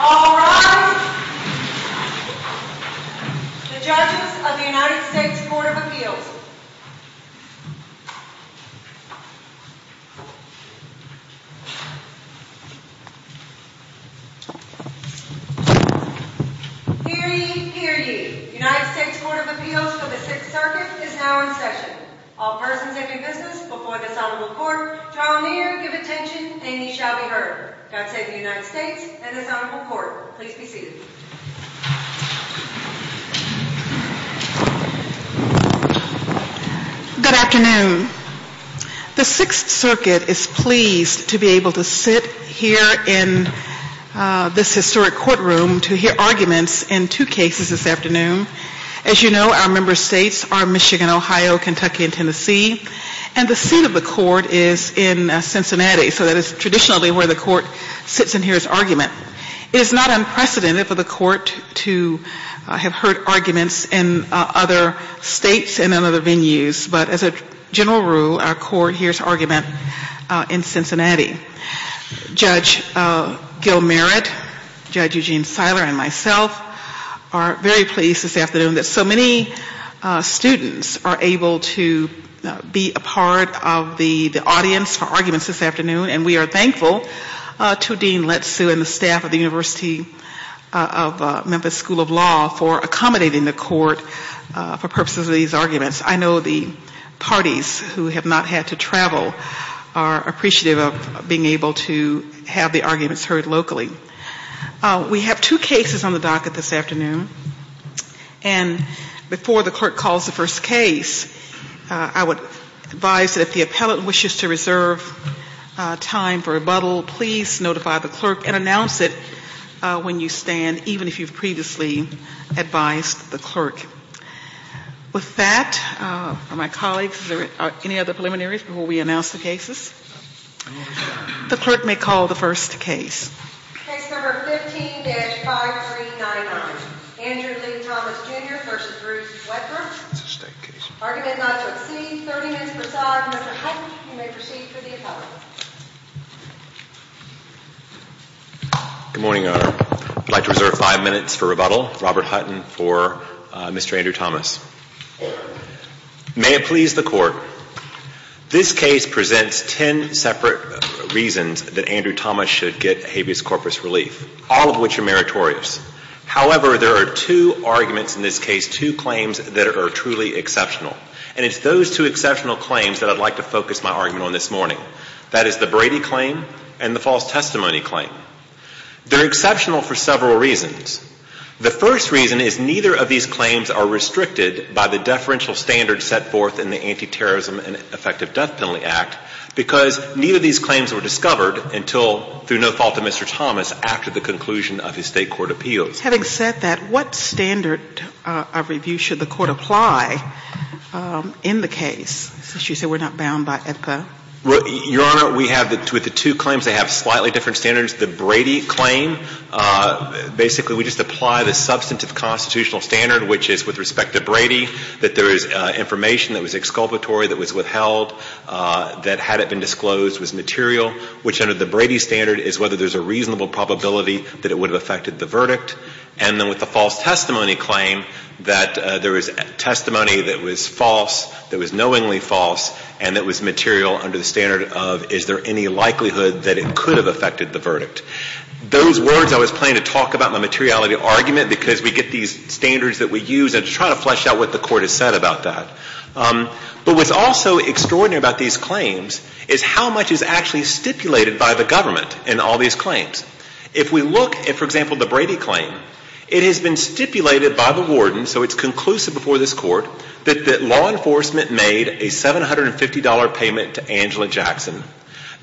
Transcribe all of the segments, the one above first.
All rise. The judges of the United States Court of Appeals. Hear ye, hear ye. The United States Court of Appeals for the Sixth Circuit is now in session. All persons in their business before this honorable court, draw near, give attention, and ye shall be heard. God save the United States and this honorable court. Please be seated. Good afternoon. The Sixth Circuit is pleased to be able to sit here in this historic courtroom to hear arguments in two cases this afternoon. As you know, our member states are Michigan, Ohio, Kentucky, and Tennessee. And the seat of the court is in Cincinnati. So that is traditionally where the court sits and hears argument. It is not unprecedented for the court to have heard arguments in other states and in other venues. But as a general rule, our court hears argument in Cincinnati. Judge Gil Merritt, Judge Eugene Seiler, and myself are very pleased this afternoon that so many students are able to be a part of the audience for arguments this afternoon. And we are thankful to Dean Lettsu and the staff of the University of Memphis School of Law for accommodating the court for purposes of these arguments. I know the parties who have not had to travel are appreciative of being able to have the arguments heard locally. We have two cases on the docket this afternoon. And before the clerk calls the first case, I would advise that if the appellant wishes to reserve time for rebuttal, please notify the clerk and announce it when you stand, even if you've previously advised the clerk. With that, are my colleagues, are there any other preliminaries before we announce the cases? The clerk may call the first case. Case number 15-5391, Andrew Lee Thomas, Jr. v. Bruce Wecker. Argument not to exceed 30 minutes per side. Mr. Hutton, you may proceed for the appellate. Good morning, Your Honor. I'd like to reserve five minutes for rebuttal. Robert Hutton for Mr. Andrew Thomas. May it please the Court. This case presents ten separate reasons that Andrew Thomas should get habeas corpus relief, all of which are meritorious. However, there are two arguments in this case, two claims that are truly exceptional. And it's those two exceptional claims that I'd like to focus my argument on this morning. That is the Brady claim and the false testimony claim. They're exceptional for several reasons. The first reason is neither of these claims are restricted by the deferential standards set forth in the Anti-Terrorism and Effective Death Penalty Act, because neither of these claims were discovered until, through no fault of Mr. Thomas, after the conclusion of his State Court appeals. Having said that, what standard of review should the Court apply in the case, since you say we're not bound by ECA? Your Honor, we have with the two claims, they have slightly different standards. The Brady claim, basically we just apply the substantive constitutional standard, which is with respect to Brady, that there is information that was exculpatory, that was withheld, that had it been disclosed was material, which under the Brady standard is whether there's a reasonable probability that it would have affected the verdict. And then with the false testimony claim, that there was testimony that was false, that was knowingly false, and that was material under the standard of is there any likelihood that it could have affected the verdict. Those words I was planning to talk about in the materiality of the argument, because we get these standards that we use, and to try to flesh out what the Court has said about that. But what's also extraordinary about these claims is how much is actually stipulated by the government in all these claims. If we look at, for example, the Brady claim, it has been stipulated by the warden, so it's conclusive before this Court, that the law enforcement made a $750 payment to Angela Jackson,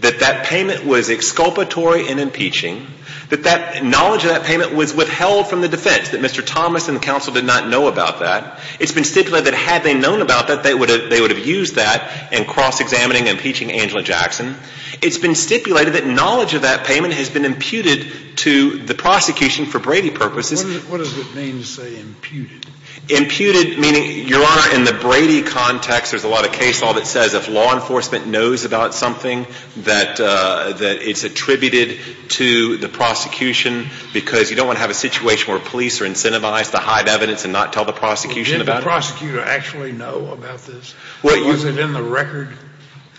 that that payment was exculpatory in impeaching, that that knowledge of that payment was withheld from the defense, that Mr. Thomas and the counsel did not know about that. It's been stipulated that had they known about that, they would have used that in cross-examining and impeaching Angela Jackson. It's been stipulated that knowledge of that payment has been imputed to the prosecution for Brady purposes. What does it mean to say imputed? Imputed, meaning, Your Honor, in the Brady context, there's a lot of case law that says if law enforcement knows about something, that it's attributed to the prosecution because you don't want to have a situation where police are incentivized to hide evidence and not tell the prosecution about it. Well, didn't the prosecutor actually know about this? Was it in the record?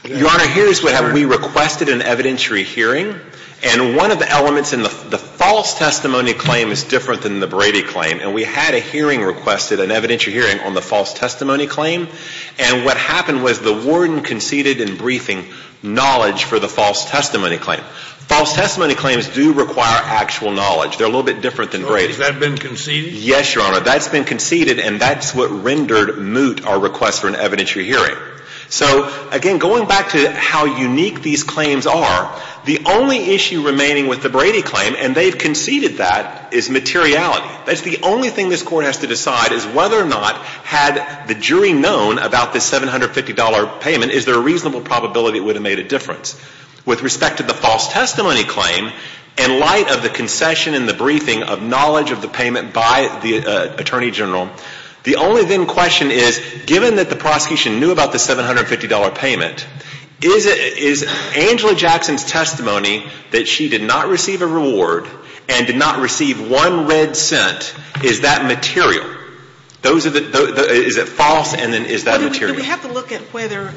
Your Honor, here's what happened. We requested an evidentiary hearing, and one of the elements in the false testimony claim is different than the Brady claim, and we had a hearing requested, an evidentiary hearing on the false testimony claim, and what happened was the warden conceded in briefing knowledge for the false testimony claim. False testimony claims do require actual knowledge. They're a little bit different than Brady. So has that been conceded? Yes, Your Honor. That's been conceded, and that's what rendered moot our request for an evidentiary hearing. So, again, going back to how unique these claims are, the only issue remaining with the Brady claim, and they've conceded that, is materiality. That's the only thing this Court has to decide is whether or not had the jury known about this $750 payment, is there a reasonable probability it would have made a difference. With respect to the false testimony claim, in light of the concession and the briefing of knowledge of the payment by the Attorney General, the only then question is, given that the prosecution knew about the $750 payment, is Angela Jackson's testimony that she did not receive a reward and did not receive one red cent, is that material? Those are the – is it false, and then is that material? Do we have to look at whether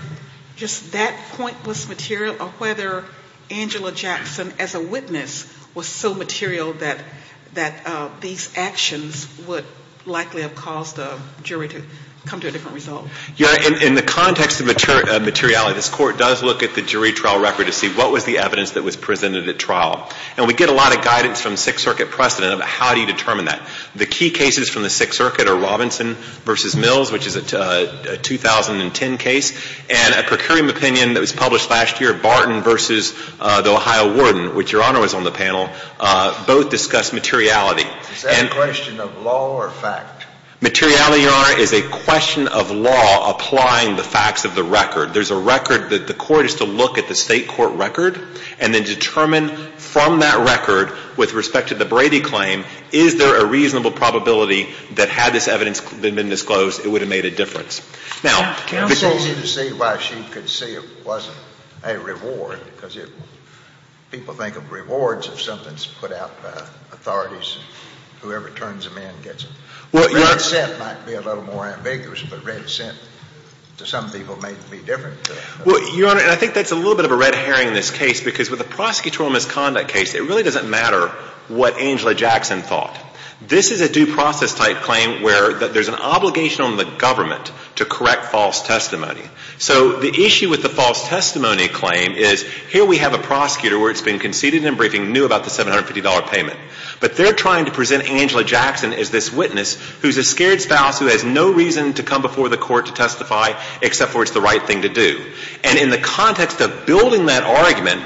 just that point was material or whether Angela Jackson as a witness was so material that these actions would likely have caused the jury to come to a different result? Your Honor, in the context of materiality, this Court does look at the jury trial record to see what was the evidence that was presented at trial. And we get a lot of guidance from Sixth Circuit precedent about how do you determine that. The key cases from the Sixth Circuit are Robinson v. Mills, which is a 2010 case, and a procuring opinion that was published last year, Barton v. The Ohio Warden, which Your Honor was on the panel, both discuss materiality. Is that a question of law or fact? Materiality, Your Honor, is a question of law applying the facts of the record. There's a record that the Court is to look at the State court record and then determine from that record, with respect to the Brady claim, is there a reasonable probability that had this evidence been disclosed, it would have made a difference. Now, because – It's easy to see why she could see it wasn't a reward, because people think of rewards as something that's put out by authorities, whoever turns them in gets it. Well, Your Honor – Well, Your Honor, and I think that's a little bit of a red herring in this case, because with a prosecutorial misconduct case, it really doesn't matter what Angela Jackson thought. This is a due process type claim where there's an obligation on the government to correct false testimony. So the issue with the false testimony claim is here we have a prosecutor where it's been conceded in a briefing, knew about the $750 payment. But they're trying to present Angela Jackson as this witness who's a scared spouse who has no reason to come before the court to testify except for it's the right thing to do. And in the context of building that argument,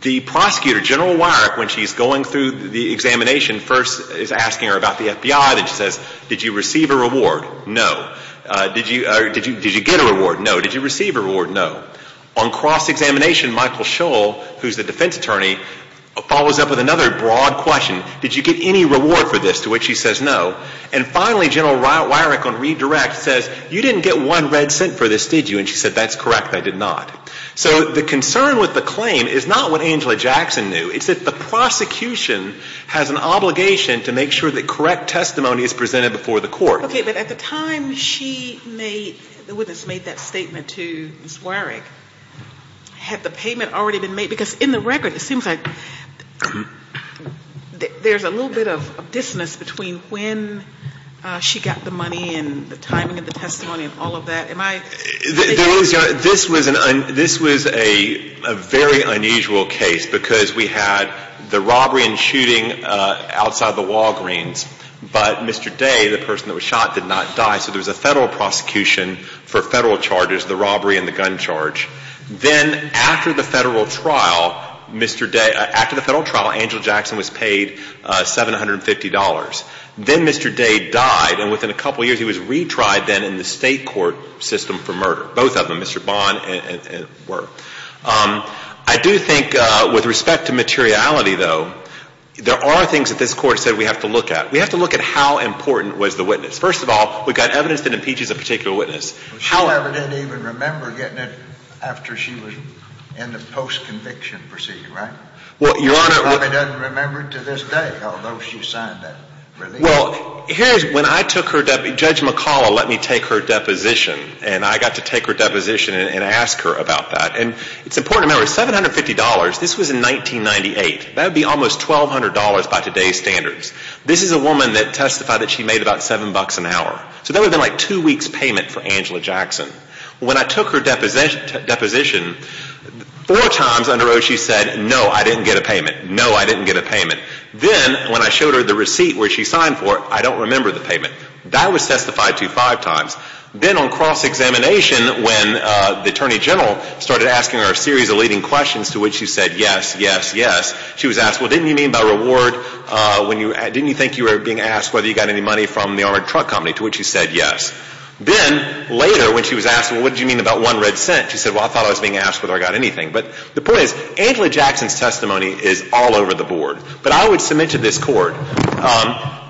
the prosecutor, General Wyrick, when she's going through the examination, first is asking her about the FBI. Then she says, did you receive a reward? No. Did you get a reward? No. Did you receive a reward? No. On cross-examination, Michael Shull, who's the defense attorney, follows up with another broad question. Did you get any reward for this? To which she says no. And finally, General Wyrick on redirect says, you didn't get one red cent for this, did you? And she said, that's correct. I did not. So the concern with the claim is not what Angela Jackson knew. It's that the prosecution has an obligation to make sure that correct testimony is presented before the court. Okay, but at the time she made, the witness made that statement to Ms. Wyrick, had the payment already been made? Because in the record, it seems like there's a little bit of dissonance between when she got the money and the timing of the testimony and all of that. Am I making sense? This was a very unusual case because we had the robbery and shooting outside the Walgreens, but Mr. Day, the person that was shot, did not die. So there was a Federal prosecution for Federal charges, the robbery and the gun charge. Then after the Federal trial, Mr. Day, after the Federal trial, Angela Jackson was paid $750. Then Mr. Day died, and within a couple of years, he was retried then in the state court system for murder. Both of them, Mr. Bond and Wyrick. I do think with respect to materiality, though, there are things that this Court said we have to look at. We have to look at how important was the witness. First of all, we've got evidence that impeaches a particular witness. She probably didn't even remember getting it after she was in the post-conviction procedure, right? Well, Your Honor, She probably doesn't remember it to this day, although she signed that release. Well, here's when I took her, Judge McCalla let me take her deposition, and I got to take her deposition and ask her about that. And it's important to remember, $750, this was in 1998. That would be almost $1,200 by today's standards. This is a woman that testified that she made about $7 an hour. So that would have been like two weeks' payment for Angela Jackson. When I took her deposition, four times on the road she said, no, I didn't get a payment. No, I didn't get a payment. Then when I showed her the receipt where she signed for it, I don't remember the payment. That was testified to five times. Then on cross-examination, when the Attorney General started asking her a series of leading questions, to which she said, yes, yes, yes, she was asked, well, didn't you mean by reward, didn't you think you were being asked whether you got any money from the armored truck company, to which she said, yes. Then later when she was asked, well, what did you mean about one red cent, she said, well, I thought I was being asked whether I got anything. But the point is, Angela Jackson's testimony is all over the board. But I would submit to this Court,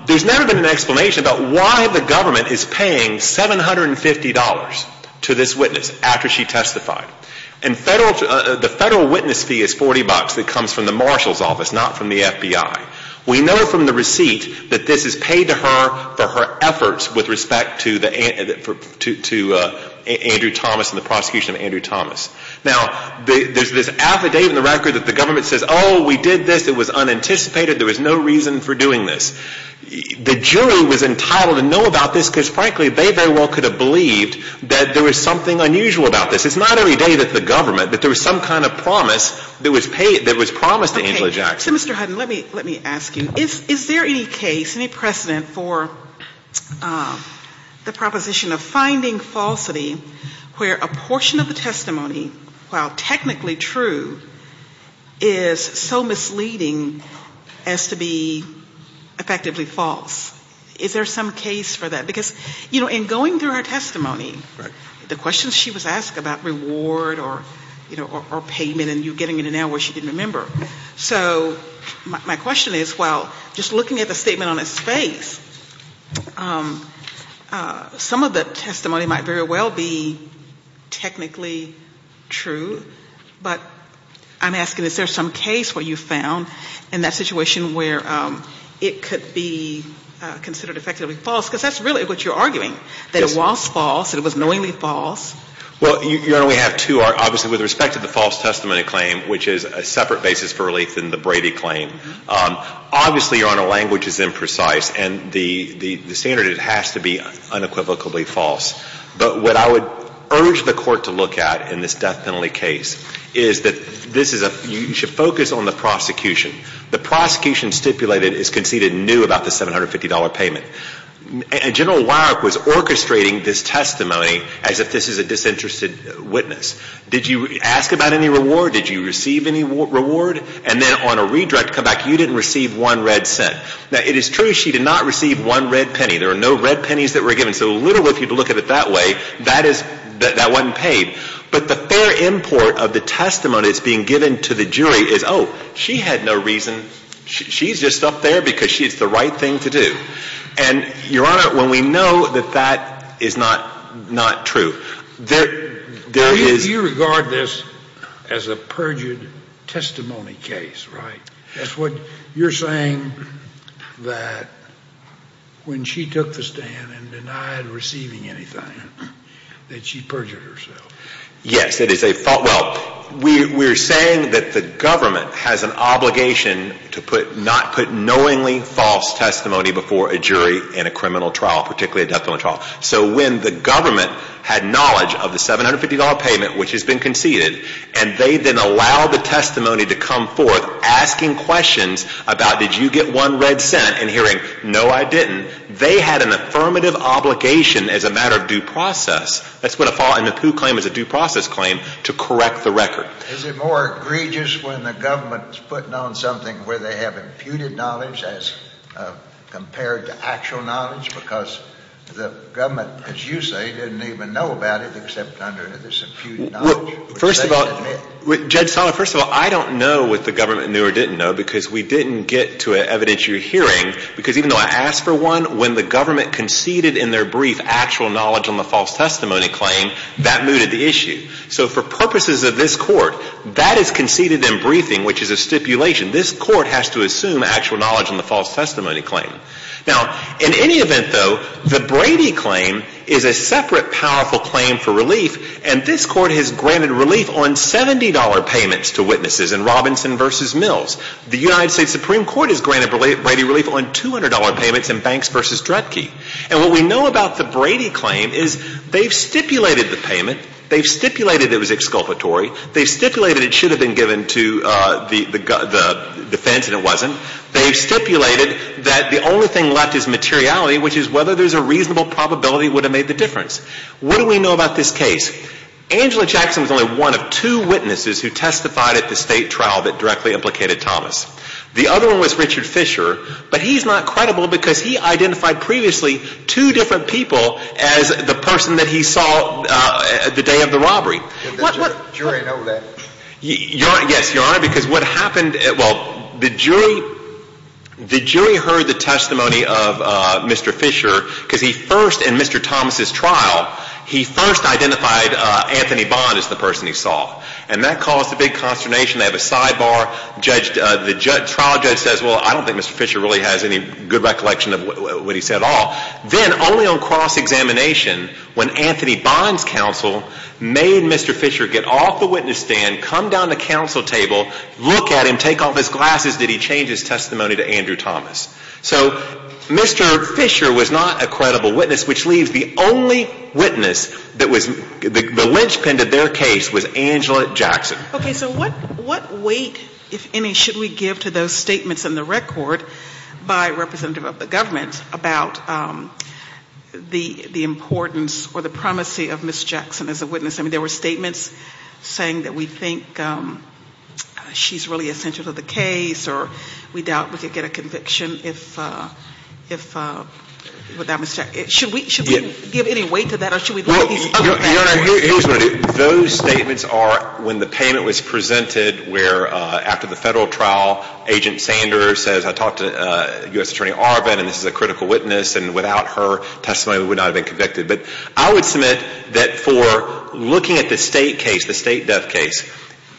there's never been an explanation about why the government is paying $750 to this witness after she testified. And the federal witness fee is $40 that comes from the Marshal's office, not from the FBI. We know from the receipt that this is paid to her for her efforts with respect to Andrew Thomas and the prosecution of Andrew Thomas. Now, there's this affidavit in the record that the government says, oh, we did this. It was unanticipated. There was no reason for doing this. The jury was entitled to know about this because, frankly, they very well could have believed that there was something unusual about this. It's not every day that the government, that there was some kind of promise that was paid, that was promised to Angela Jackson. Okay. So, Mr. Hutton, let me ask you. Is there any case, any precedent for the proposition of finding falsity where a portion of the testimony, while technically true, is so misleading as to be effectively false? Is there some case for that? Because, you know, in going through her testimony, the questions she was asked about reward or payment and you're getting into now where she didn't remember. So my question is, while just looking at the statement on its face, some of the testimony might very well be technically true, but I'm asking, is there some case where you found in that situation where it could be considered effectively false? Because that's really what you're arguing, that it was false, that it was knowingly false. Well, Your Honor, we have two. Obviously, with respect to the false testimony claim, which is a separate basis for relief than the Brady claim, obviously, Your Honor, language is imprecise and the standard has to be unequivocally false. But what I would urge the Court to look at in this death penalty case is that this is a – you should focus on the prosecution. The prosecution stipulated is conceded new about the $750 payment. And General Weirich was orchestrating this testimony as if this is a disinterested witness. Did you ask about any reward? Did you receive any reward? And then on a redirect, come back, you didn't receive one red cent. Now, it is true she did not receive one red penny. There are no red pennies that were given. So literally, if you look at it that way, that is – that wasn't paid. But the fair import of the testimony that's being given to the jury is, oh, she had no reason. She's just up there because it's the right thing to do. And, Your Honor, when we know that that is not true, there is – You regard this as a perjured testimony case, right? That's what you're saying that when she took the stand and denied receiving anything, that she perjured herself. Yes, it is a – well, we're saying that the government has an obligation to put – for a jury in a criminal trial, particularly a death penalty trial. So when the government had knowledge of the $750 payment, which has been conceded, and they then allow the testimony to come forth asking questions about, did you get one red cent, and hearing, no, I didn't, they had an affirmative obligation as a matter of due process. That's what a – and a Pew claim is a due process claim to correct the record. Is it more egregious when the government is putting on something where they have imputed knowledge as compared to actual knowledge because the government, as you say, didn't even know about it except under this imputed knowledge? First of all – Judge Sala, first of all, I don't know what the government knew or didn't know because we didn't get to an evidentiary hearing. Because even though I asked for one, when the government conceded in their brief actual knowledge on the false testimony claim, that mooted the issue. So for purposes of this Court, that is conceded in briefing, which is a stipulation. This Court has to assume actual knowledge on the false testimony claim. Now, in any event, though, the Brady claim is a separate powerful claim for relief, and this Court has granted relief on $70 payments to witnesses in Robinson v. Mills. The United States Supreme Court has granted Brady relief on $200 payments in Banks v. Dredke. And what we know about the Brady claim is they've stipulated the payment, they've stipulated it was exculpatory, they've stipulated it should have been given to the defense and it wasn't, they've stipulated that the only thing left is materiality, which is whether there's a reasonable probability it would have made the difference. What do we know about this case? Angela Jackson was only one of two witnesses who testified at the State trial that directly implicated Thomas. The other one was Richard Fisher, but he's not credible because he identified Did the jury know that? Yes, Your Honor, because what happened, well, the jury heard the testimony of Mr. Fisher because he first, in Mr. Thomas' trial, he first identified Anthony Bond as the person he saw. And that caused a big consternation. They have a sidebar. The trial judge says, well, I don't think Mr. Fisher really has any good recollection of what he said at all. Then, only on cross-examination, when Anthony Bond's counsel made Mr. Fisher get off the witness stand, come down to counsel table, look at him, take off his glasses, did he change his testimony to Andrew Thomas? So Mr. Fisher was not a credible witness, which leaves the only witness that was, the linchpin to their case was Angela Jackson. Okay, so what weight, if any, should we give to those statements in the record by a representative of the government about the importance or the primacy of Ms. Jackson as a witness? I mean, there were statements saying that we think she's really essential to the case or we doubt we could get a conviction without Ms. Jackson. Should we give any weight to that or should we let these other actors? Your Honor, here's what I do. Those statements are when the payment was presented where, after the federal trial, Agent Sanders says, I talked to U.S. Attorney Arvin and this is a critical witness and without her testimony we would not have been convicted. But I would submit that for looking at the state case, the state death case,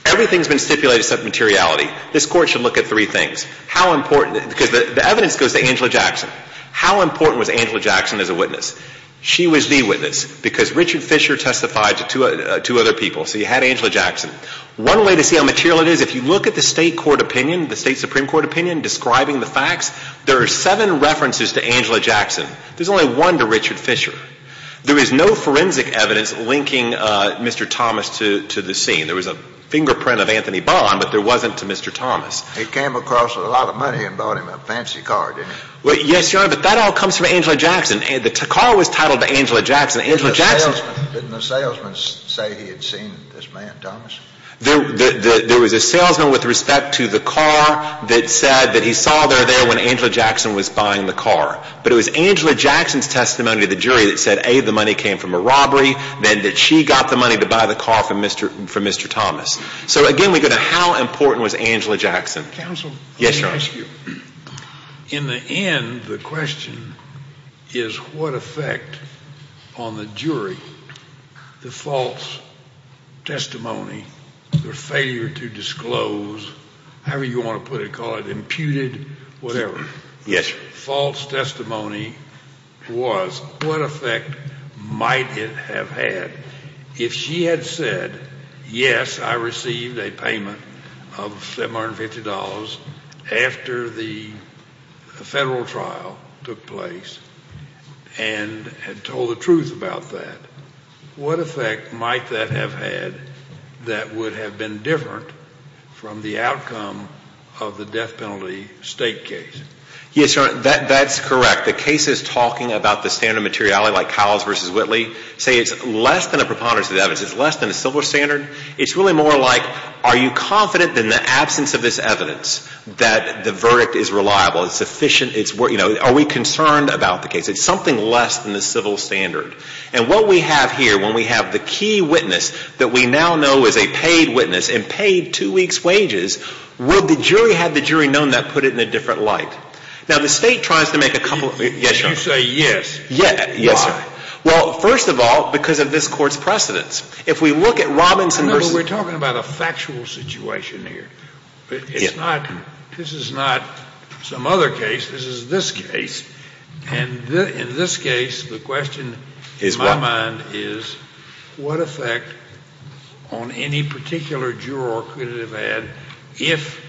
everything's been stipulated except materiality. This Court should look at three things. How important, because the evidence goes to Angela Jackson. How important was Angela Jackson as a witness? She was the witness because Richard Fisher testified to two other people. So you had Angela Jackson. One way to see how material it is, if you look at the state court opinion, the state Supreme Court opinion describing the facts, there are seven references to Angela Jackson. There's only one to Richard Fisher. There is no forensic evidence linking Mr. Thomas to the scene. There was a fingerprint of Anthony Bond, but there wasn't to Mr. Thomas. He came across with a lot of money and bought him a fancy car, didn't he? Yes, Your Honor, but that all comes from Angela Jackson. The car was titled Angela Jackson. Didn't the salesman say he had seen this man, Thomas? There was a salesman with respect to the car that said that he saw there when Angela Jackson was buying the car. But it was Angela Jackson's testimony to the jury that said, A, the money came from a robbery, then that she got the money to buy the car from Mr. Thomas. So, again, we go to how important was Angela Jackson. Counsel, let me ask you. Yes, Your Honor. In the end, the question is what effect on the jury the false testimony, the failure to disclose, however you want to put it, call it, imputed, whatever. Yes, Your Honor. False testimony was what effect might it have had if she had said, Yes, I received a payment of $750 after the federal trial took place and had told the truth about that. What effect might that have had that would have been different from the outcome of the death penalty state case? Yes, Your Honor, that's correct. The cases talking about the standard of materiality like Cowles v. Whitley say it's less than a preponderance of the evidence. It's less than a civil standard. It's really more like are you confident in the absence of this evidence that the verdict is reliable, it's efficient, it's, you know, are we concerned about the case? It's something less than the civil standard. And what we have here when we have the key witness that we now know is a paid witness and paid two weeks' wages, would the jury have the jury known that put it in a different light? Now, the state tries to make a couple of, yes, Your Honor. If you say yes, why? Yes, Your Honor. Well, first of all, because of this Court's precedence. If we look at Robinson v. No, but we're talking about a factual situation here. It's not, this is not some other case. This is this case. And in this case, the question in my mind is what effect on any particular juror could it have had if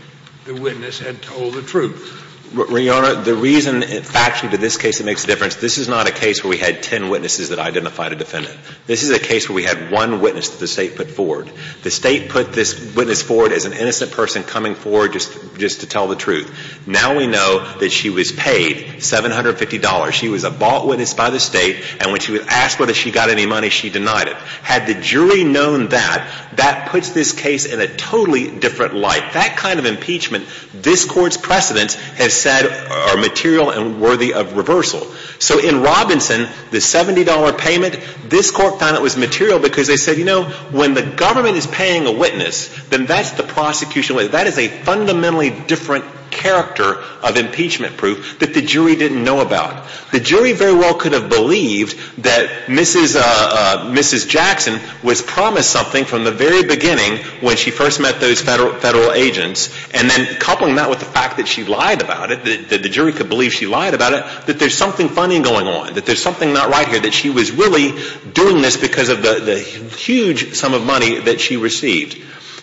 the witness had told the truth? Your Honor, the reason factually to this case it makes a difference, this is not a case where we had ten witnesses that identified a defendant. This is a case where we had one witness that the State put forward. The State put this witness forward as an innocent person coming forward just to tell the truth. Now we know that she was paid $750. She was a bought witness by the State, and when she was asked whether she got any money, she denied it. Had the jury known that, that puts this case in a totally different light. That kind of impeachment, this Court's precedence has said are material and worthy of reversal. So in Robinson, the $70 payment, this Court found it was material because they said, you know, when the government is paying a witness, then that's the prosecution. That is a fundamentally different character of impeachment proof that the jury didn't know about. The jury very well could have believed that Mrs. Jackson was promised something from the very beginning when she first met those Federal agents, and then coupling that with the fact that she lied about it, that the jury could believe she lied about it, that there's something funny going on, that there's something not right here, that she was really doing this because of the huge sum of money that she received.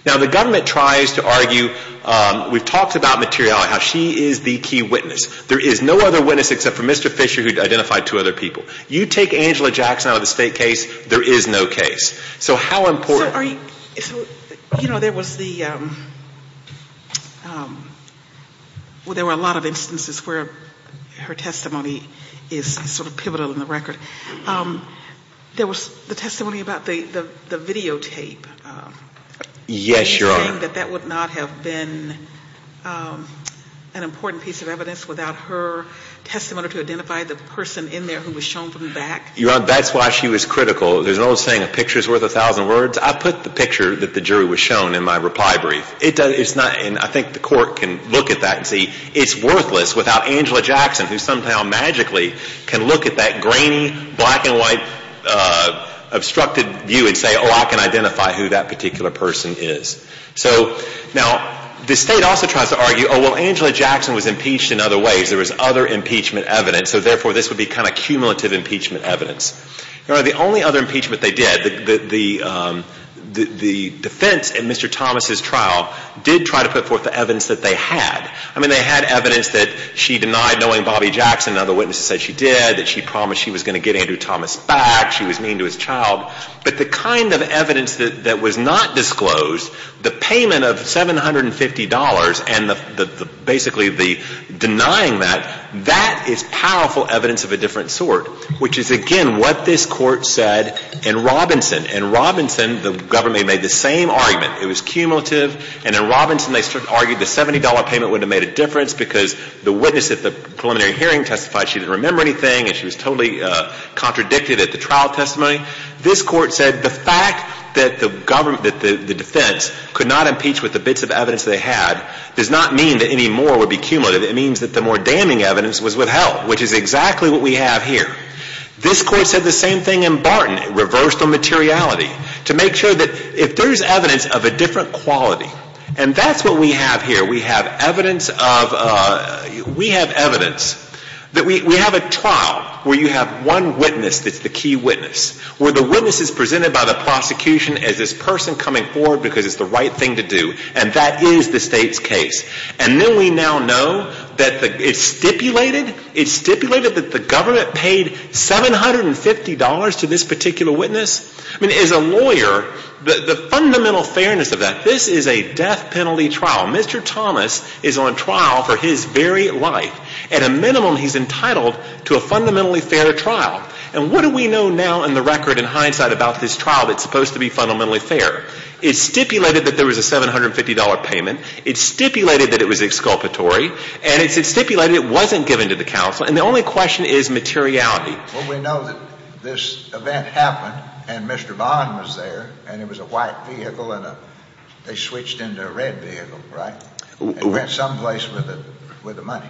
Now the government tries to argue, we've talked about materiality, how she is the key witness. There is no other witness except for Mr. Fisher who identified two other people. You take Angela Jackson out of the State case, there is no case. So how important So are you, you know, there was the, well, there were a lot of instances where her testimony is sort of pivotal in the record. There was the testimony about the videotape. Yes, Your Honor. That that would not have been an important piece of evidence without her testimony to identify the person in there who was shown from the back. Your Honor, that's why she was critical. There's an old saying, a picture is worth a thousand words. I put the picture that the jury was shown in my reply brief. It's not, and I think the Court can look at that and see it's worthless without Angela Jackson who somehow magically can look at that grainy, black and white, obstructed view and say, oh, I can identify who that particular person is. So now the State also tries to argue, oh, well, Angela Jackson was impeached in other ways. There was other impeachment evidence. So therefore, this would be kind of cumulative impeachment evidence. Your Honor, the only other impeachment they did, the defense in Mr. Thomas' trial, did try to put forth the evidence that they had. I mean, they had evidence that she denied knowing Bobby Jackson. Other witnesses said she did, that she promised she was going to get Andrew Thomas back. She was mean to his child. But the kind of evidence that was not disclosed, the payment of $750 and basically the denying that, that is powerful evidence of a different sort, which is, again, what this Court said in Robinson. In Robinson, the government made the same argument. It was cumulative. And in Robinson, they argued the $70 payment wouldn't have made a difference because the witness at the preliminary hearing testified she didn't remember anything and she was totally contradicted at the trial testimony. This Court said the fact that the defense could not impeach with the bits of evidence they had does not mean that any more would be cumulative. It means that the more damning evidence was withheld, which is exactly what we have here. This Court said the same thing in Barton, reversed on materiality, to make sure that if there's evidence of a different quality, and that's what we have here. We have evidence of, we have evidence that we have a trial where you have one witness that's the key witness, where the witness is presented by the prosecution as this person coming forward because it's the right thing to do. And that is the State's case. And then we now know that it's stipulated, it's stipulated that the government paid $750 to this particular witness. I mean, as a lawyer, the fundamental fairness of that, this is a death penalty trial. Mr. Thomas is on trial for his very life. At a minimum, he's entitled to a fundamentally fair trial. And what do we know now in the record in hindsight about this trial that's supposed to be fundamentally fair? It's stipulated that there was a $750 payment. It's stipulated that it was exculpatory. And it's stipulated it wasn't given to the counsel. And the only question is materiality. Well, we know that this event happened, and Mr. Bond was there, and it was a white vehicle, and they switched into a red vehicle, right? And we're at some place with the money.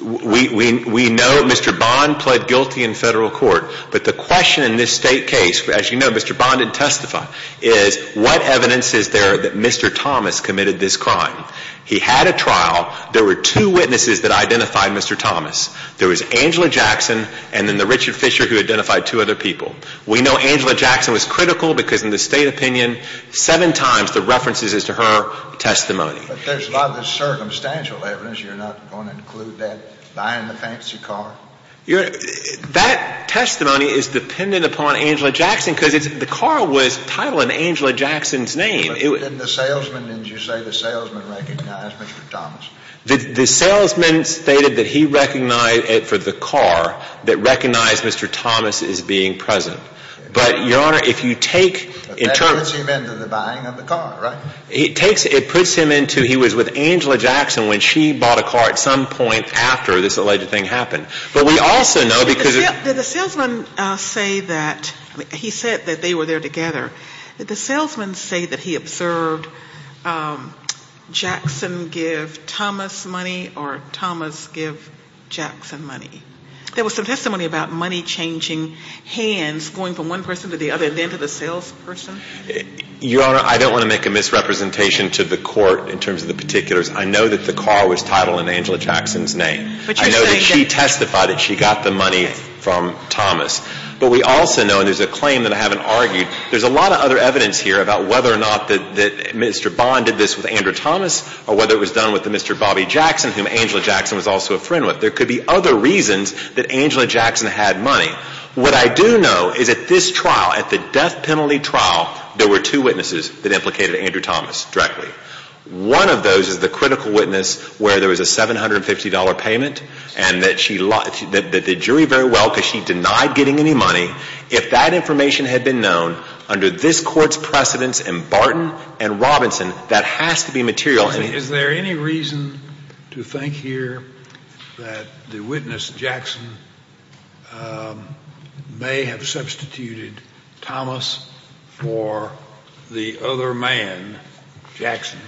We know Mr. Bond pled guilty in federal court. But the question in this State case, as you know, Mr. Bond didn't testify, is what evidence is there that Mr. Thomas committed this crime? He had a trial. There were two witnesses that identified Mr. Thomas. There was Angela Jackson and then the Richard Fisher who identified two other people. We know Angela Jackson was critical because in the State opinion, seven times the references is to her testimony. But there's a lot of this circumstantial evidence. You're not going to include that buying the fancy car? That testimony is dependent upon Angela Jackson because the car was titled in Angela Jackson's name. But didn't the salesman, didn't you say the salesman recognized Mr. Thomas? The salesman stated that he recognized it for the car that recognized Mr. Thomas as being present. But, Your Honor, if you take in terms of the buying of the car, right? It puts him into, he was with Angela Jackson when she bought a car at some point after this alleged thing happened. But we also know because of Did the salesman say that, he said that they were there together. Did the salesman say that he observed Jackson give Thomas money or Thomas give Jackson money? There was some testimony about money changing hands going from one person to the other and then to the salesperson. Your Honor, I don't want to make a misrepresentation to the court in terms of the particulars. I know that the car was titled in Angela Jackson's name. I know that she testified that she got the money from Thomas. But we also know, and there's a claim that I haven't argued, there's a lot of other evidence here about whether or not that Mr. Bond did this with Andrew Thomas or whether it was done with Mr. Bobby Jackson, whom Angela Jackson was also a friend with. There could be other reasons that Angela Jackson had money. What I do know is at this trial, at the death penalty trial, there were two witnesses that implicated Andrew Thomas directly. One of those is the critical witness where there was a $750 payment and that the jury very well, because she denied getting any money. If that information had been known under this Court's precedence in Barton and Robinson, that has to be material. Is there any reason to think here that the witness, Jackson, may have substituted Thomas for the other man, Jackson?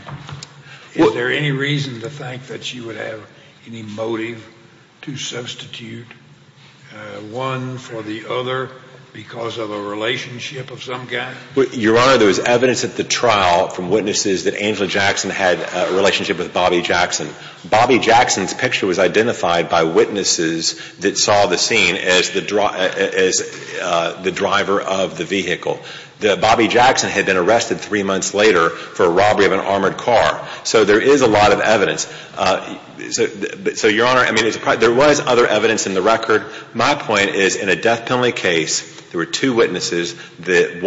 Is there any reason to think that she would have any motive to substitute one for the other because of a relationship of some guy? Your Honor, there was evidence at the trial from witnesses that Angela Jackson had a relationship with Bobby Jackson. Bobby Jackson's picture was identified by witnesses that saw the scene as the driver of the vehicle. Bobby Jackson had been arrested three months later for a robbery of an armored car. So there is a lot of evidence. So, Your Honor, I mean, there was other evidence in the record. My point is, in a death penalty case, there were two witnesses. The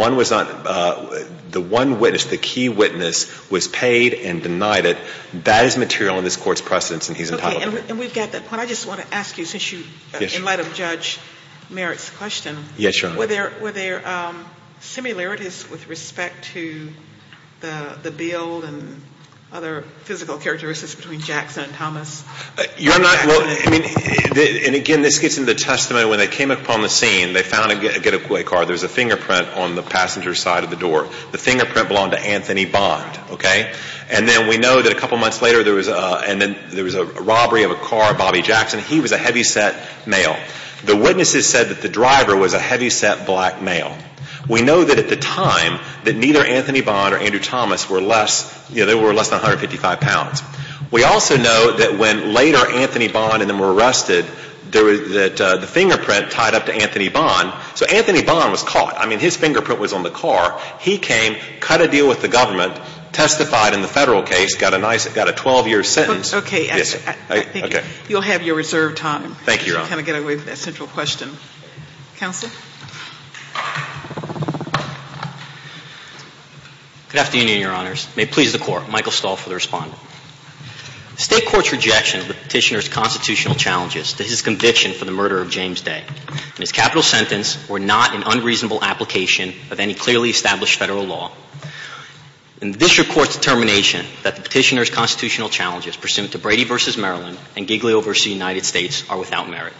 one witness, the key witness, was paid and denied it. That is material in this Court's precedence, and he's entitled to it. Okay, and we've got that point. I just want to ask you, since you, in light of Judge Merritt's question. Yes, Your Honor. Were there similarities with respect to the bill and other physical characteristics between Jackson and Thomas? Your Honor, well, I mean, and again, this gets into the testament. When they came upon the scene, they found a getaway car. There was a fingerprint on the passenger's side of the door. The fingerprint belonged to Anthony Bond, okay? And then we know that a couple months later there was a robbery of a car of Bobby Jackson. He was a heavyset male. The witnesses said that the driver was a heavyset black male. We know that at the time that neither Anthony Bond or Andrew Thomas were less, you know, they were less than 155 pounds. We also know that when later Anthony Bond and them were arrested, that the fingerprint tied up to Anthony Bond. So Anthony Bond was caught. I mean, his fingerprint was on the car. He came, cut a deal with the government, testified in the Federal case, got a nice, got a 12-year sentence. Okay, I think you'll have your reserved time. Thank you, Your Honor. To kind of get away with that central question. Counsel? Good afternoon, Your Honors. May it please the Court. Michael Stahl for the Respondent. The State Court's rejection of the Petitioner's constitutional challenges to his conviction for the murder of James Day and his capital sentence were not an unreasonable application of any clearly established Federal law. And the District Court's determination that the Petitioner's constitutional challenges pursuant to Brady v. Maryland and Giglio v. United States are without merit.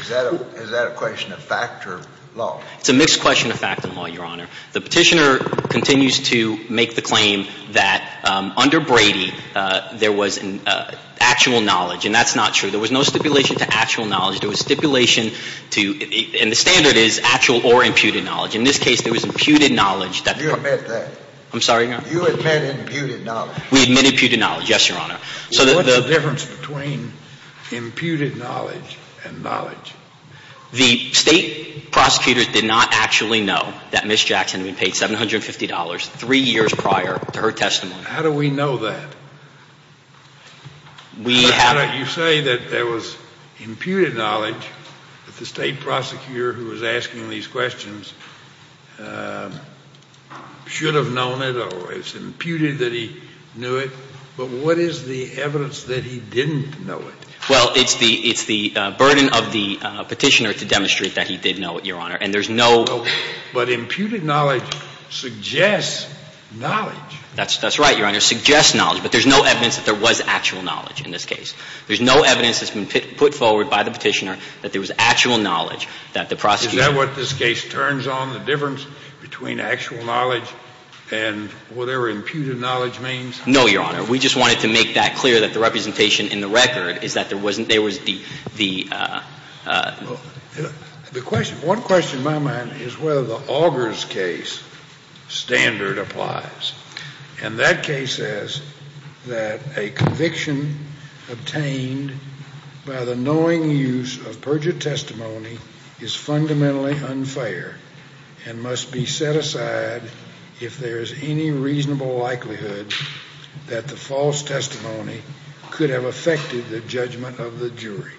Is that a question of fact or law? It's a mixed question of fact and law, Your Honor. The Petitioner continues to make the claim that under Brady there was actual knowledge. And that's not true. There was no stipulation to actual knowledge. There was stipulation to, and the standard is actual or imputed knowledge. In this case, there was imputed knowledge. You admit that? I'm sorry, Your Honor? You admit imputed knowledge? We admit imputed knowledge, yes, Your Honor. What's the difference between imputed knowledge and knowledge? The State prosecutors did not actually know that Ms. Jackson had been paid $750 three years prior to her testimony. How do we know that? We have not. You say that there was imputed knowledge that the State prosecutor who was asking these questions should have known it or it's imputed that he knew it. But what is the evidence that he didn't know it? Well, it's the burden of the Petitioner to demonstrate that he did know it, Your Honor. And there's no— But imputed knowledge suggests knowledge. That's right, Your Honor. It suggests knowledge. But there's no evidence that there was actual knowledge in this case. There's no evidence that's been put forward by the Petitioner that there was actual knowledge that the prosecutor— Is that what this case turns on, the difference between actual knowledge and whatever imputed knowledge means? No, Your Honor. We just wanted to make that clear that the representation in the record is that there wasn't—there was the— The question—one question in my mind is whether the Augers case standard applies. And that case says that a conviction obtained by the knowing use of perjured testimony is fundamentally unfair and must be set aside if there is any reasonable likelihood that the false testimony could have affected the judgment of the jury.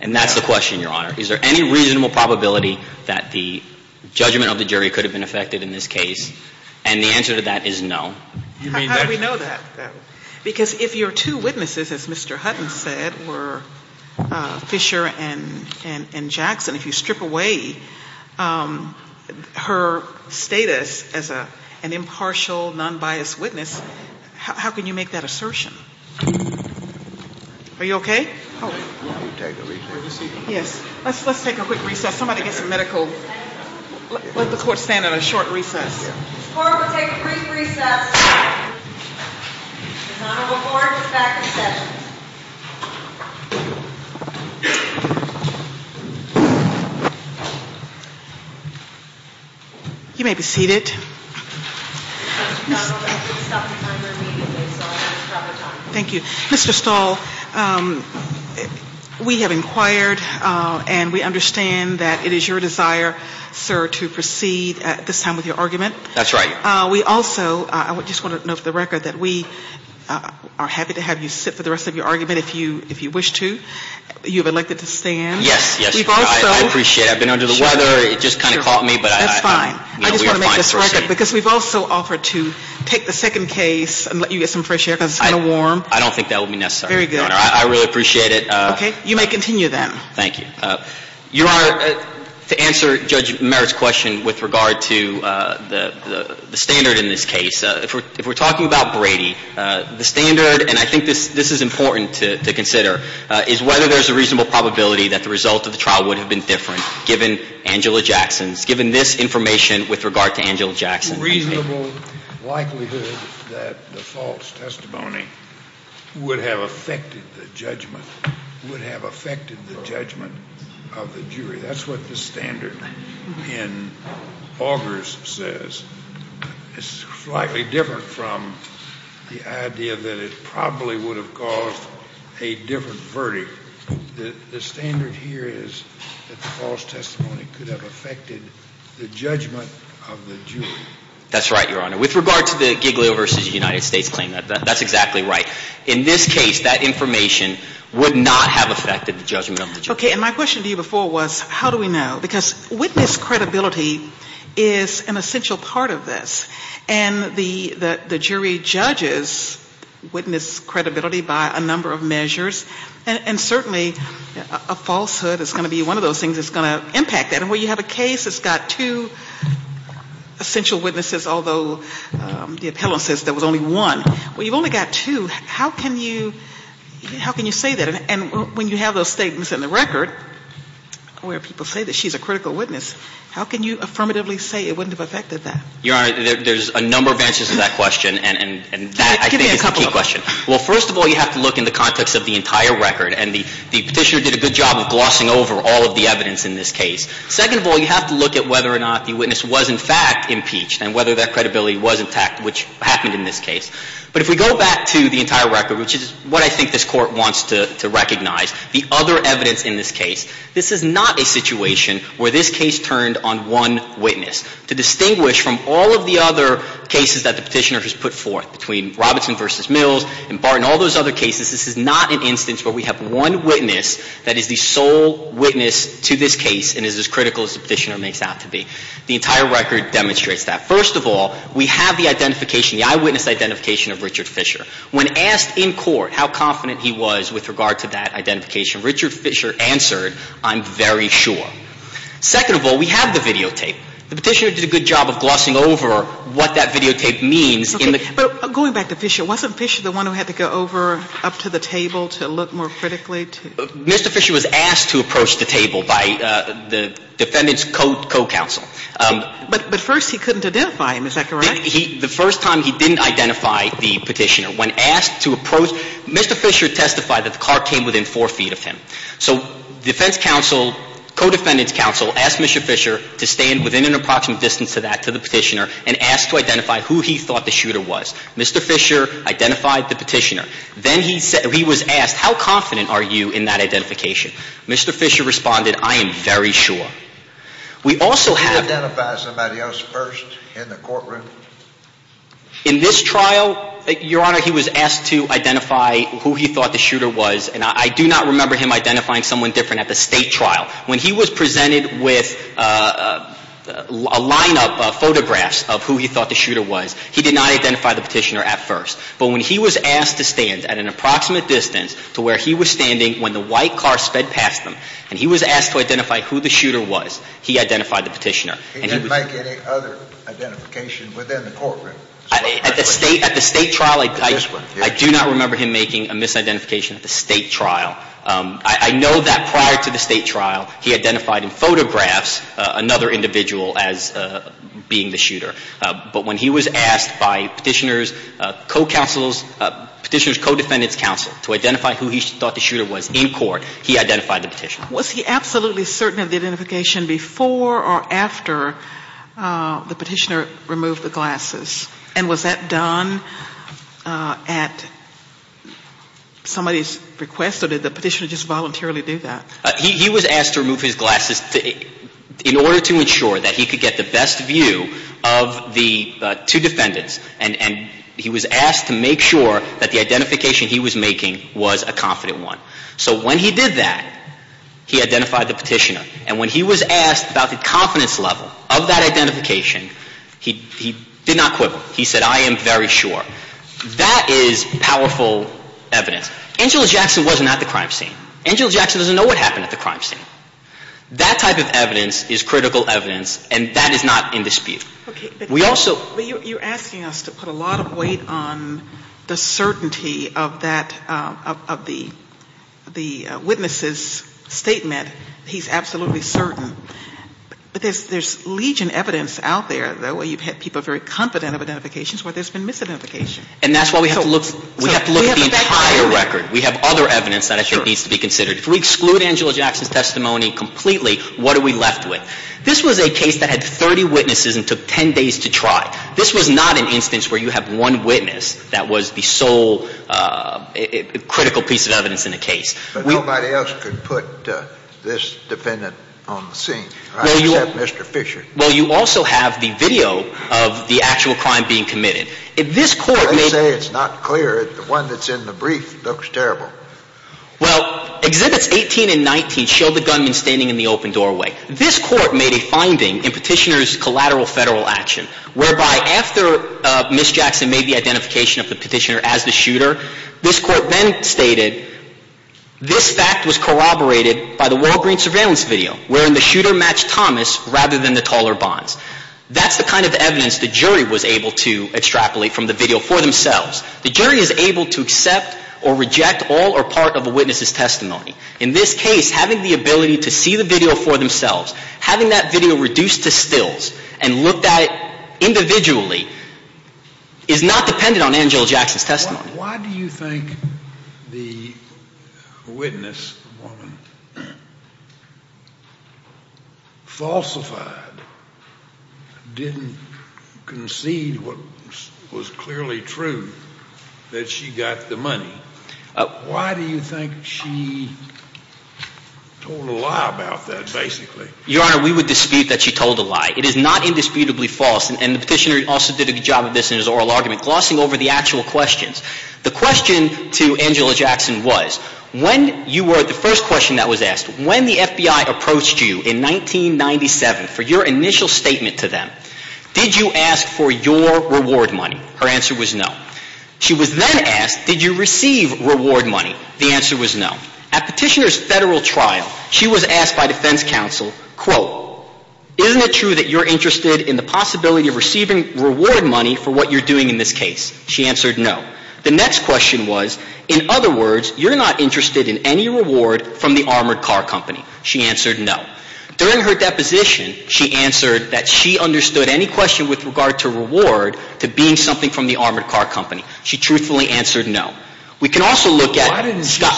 And that's the question, Your Honor. Is there any reasonable probability that the judgment of the jury could have been affected in this case? And the answer to that is no. How do we know that? Because if your two witnesses, as Mr. Hutton said, were Fisher and Jackson, if you strip away her status as an impartial, non-biased witness, how can you make that assertion? Are you okay? Yes. Let's take a quick recess. Somebody get some medical—let the Court stand on a short recess. This Court will take a brief recess. This Honorable Court is back in session. You may be seated. Mr. Connolly, please stop the timer immediately, so I don't have trouble talking. Thank you. Mr. Stahl, we have inquired and we understand that it is your desire, sir, to proceed at this time with your argument. That's right. We also just want to note for the record that we are happy to have you sit for the rest of your argument if you wish to. You have elected to stand. Yes, yes. I appreciate it. I've been under the weather. It just kind of caught me. That's fine. I just want to make this record because we've also offered to take the second case and let you get some fresh air because it's kind of warm. I don't think that will be necessary. Very good. I really appreciate it. Okay. You may continue then. Thank you. Your Honor, to answer Judge Merritt's question with regard to the standard in this case, if we're talking about Brady, the standard, and I think this is important to consider, is whether there's a reasonable probability that the result of the trial would have been different given Angela Jackson's, given this information with regard to Angela Jackson. There's a reasonable likelihood that the false testimony would have affected the judgment, would have affected the judgment of the jury. That's what the standard in Augers says. It's slightly different from the idea that it probably would have caused a different verdict. The standard here is that the false testimony could have affected the judgment of the jury. That's right, Your Honor. With regard to the Giglio v. United States claim, that's exactly right. In this case, that information would not have affected the judgment of the jury. Okay. And my question to you before was how do we know? Because witness credibility is an essential part of this. And the jury judges witness credibility by a number of measures. And certainly a falsehood is going to be one of those things that's going to impact that. And when you have a case that's got two essential witnesses, although the appellant says there was only one, well, you've only got two. How can you say that? And when you have those statements in the record where people say that she's a critical witness, how can you affirmatively say it wouldn't have affected that? Your Honor, there's a number of answers to that question, and that I think is a key question. Give me a couple of them. Well, first of all, you have to look in the context of the entire record. And the Petitioner did a good job of glossing over all of the evidence in this case. Second of all, you have to look at whether or not the witness was in fact impeached and whether that credibility was intact, which happened in this case. But if we go back to the entire record, which is what I think this Court wants to recognize, the other evidence in this case, this is not a situation where this case turned on one witness. To distinguish from all of the other cases that the Petitioner has put forth, between Robinson v. Mills and Barton, all those other cases, this is not an instance where we have one witness that is the sole witness to this case and is as critical as the Petitioner makes out to be. The entire record demonstrates that. First of all, we have the identification, the eyewitness identification of Richard Fisher. When asked in court how confident he was with regard to that identification, Richard Fisher answered, I'm very sure. Second of all, we have the videotape. The Petitioner did a good job of glossing over what that videotape means. But going back to Fisher, wasn't Fisher the one who had to go over up to the table to look more critically? Mr. Fisher was asked to approach the table by the defendant's co-counsel. But first he couldn't identify him. Is that correct? The first time he didn't identify the Petitioner, when asked to approach, Mr. Fisher testified that the car came within four feet of him. So defense counsel, co-defendant's counsel, asked Mr. Fisher to stand within an approximate distance to that, to the Petitioner, and asked to identify who he thought the shooter was. Mr. Fisher identified the Petitioner. Then he was asked, how confident are you in that identification? Mr. Fisher responded, I am very sure. He didn't identify somebody else first in the courtroom? In this trial, Your Honor, he was asked to identify who he thought the shooter was. And I do not remember him identifying someone different at the state trial. When he was presented with a line-up of photographs of who he thought the shooter was, he did not identify the Petitioner at first. But when he was asked to stand at an approximate distance to where he was standing when the white car sped past him, and he was asked to identify who the shooter was, he identified the Petitioner. He didn't make any other identification within the courtroom? At the state trial, I do not remember him making a misidentification at the state trial. I know that prior to the state trial, he identified in photographs another individual as being the shooter. But when he was asked by Petitioner's co-counsels, Petitioner's co-defendants' counsel to identify who he thought the shooter was in court, he identified the Petitioner. Was he absolutely certain of the identification before or after the Petitioner removed the glasses? And was that done at somebody's request, or did the Petitioner just voluntarily do that? He was asked to remove his glasses in order to ensure that he could get the best view of the two defendants. And he was asked to make sure that the identification he was making was a confident one. So when he did that, he identified the Petitioner. And when he was asked about the confidence level of that identification, he did not quibble. He said, I am very sure. That is powerful evidence. Angela Jackson was not at the crime scene. Angela Jackson doesn't know what happened at the crime scene. That type of evidence is critical evidence, and that is not in dispute. We also ---- But you're asking us to put a lot of weight on the certainty of that, of the witness's statement, he's absolutely certain. But there's legion evidence out there, though, where you've had people very confident of identifications, where there's been misidentification. And that's why we have to look at the entire record. We have other evidence that I think needs to be considered. If we exclude Angela Jackson's testimony completely, what are we left with? This was a case that had 30 witnesses and took 10 days to try. This was not an instance where you have one witness that was the sole critical piece of evidence in the case. But nobody else could put this defendant on the scene, except Mr. Fisher. Well, you also have the video of the actual crime being committed. I say it's not clear. The one that's in the brief looks terrible. Well, Exhibits 18 and 19 show the gunman standing in the open doorway. This Court made a finding in Petitioner's collateral Federal action, whereby after Ms. Jackson made the identification of the Petitioner as the shooter, this Court then stated this fact was corroborated by the Walgreens surveillance video, wherein the shooter matched Thomas rather than the taller bonds. That's the kind of evidence the jury was able to extrapolate from the video for themselves. The jury is able to accept or reject all or part of a witness's testimony. In this case, having the ability to see the video for themselves, having that video reduced to stills and looked at individually is not dependent on Angela Jackson's testimony. Now, why do you think the witness, the woman, falsified, didn't concede what was clearly true, that she got the money? Why do you think she told a lie about that, basically? Your Honor, we would dispute that she told a lie. It is not indisputably false, and the Petitioner also did a good job of this in his oral argument, glossing over the actual questions. The question to Angela Jackson was, when you were – the first question that was asked, when the FBI approached you in 1997 for your initial statement to them, did you ask for your reward money? Her answer was no. She was then asked, did you receive reward money? The answer was no. At Petitioner's Federal trial, she was asked by defense counsel, quote, isn't it true that you're interested in the possibility of receiving reward money for what you're doing in this case? She answered no. The next question was, in other words, you're not interested in any reward from the armored car company. She answered no. During her deposition, she answered that she understood any question with regard to reward to being something from the armored car company. She truthfully answered no. We can also look at Scott.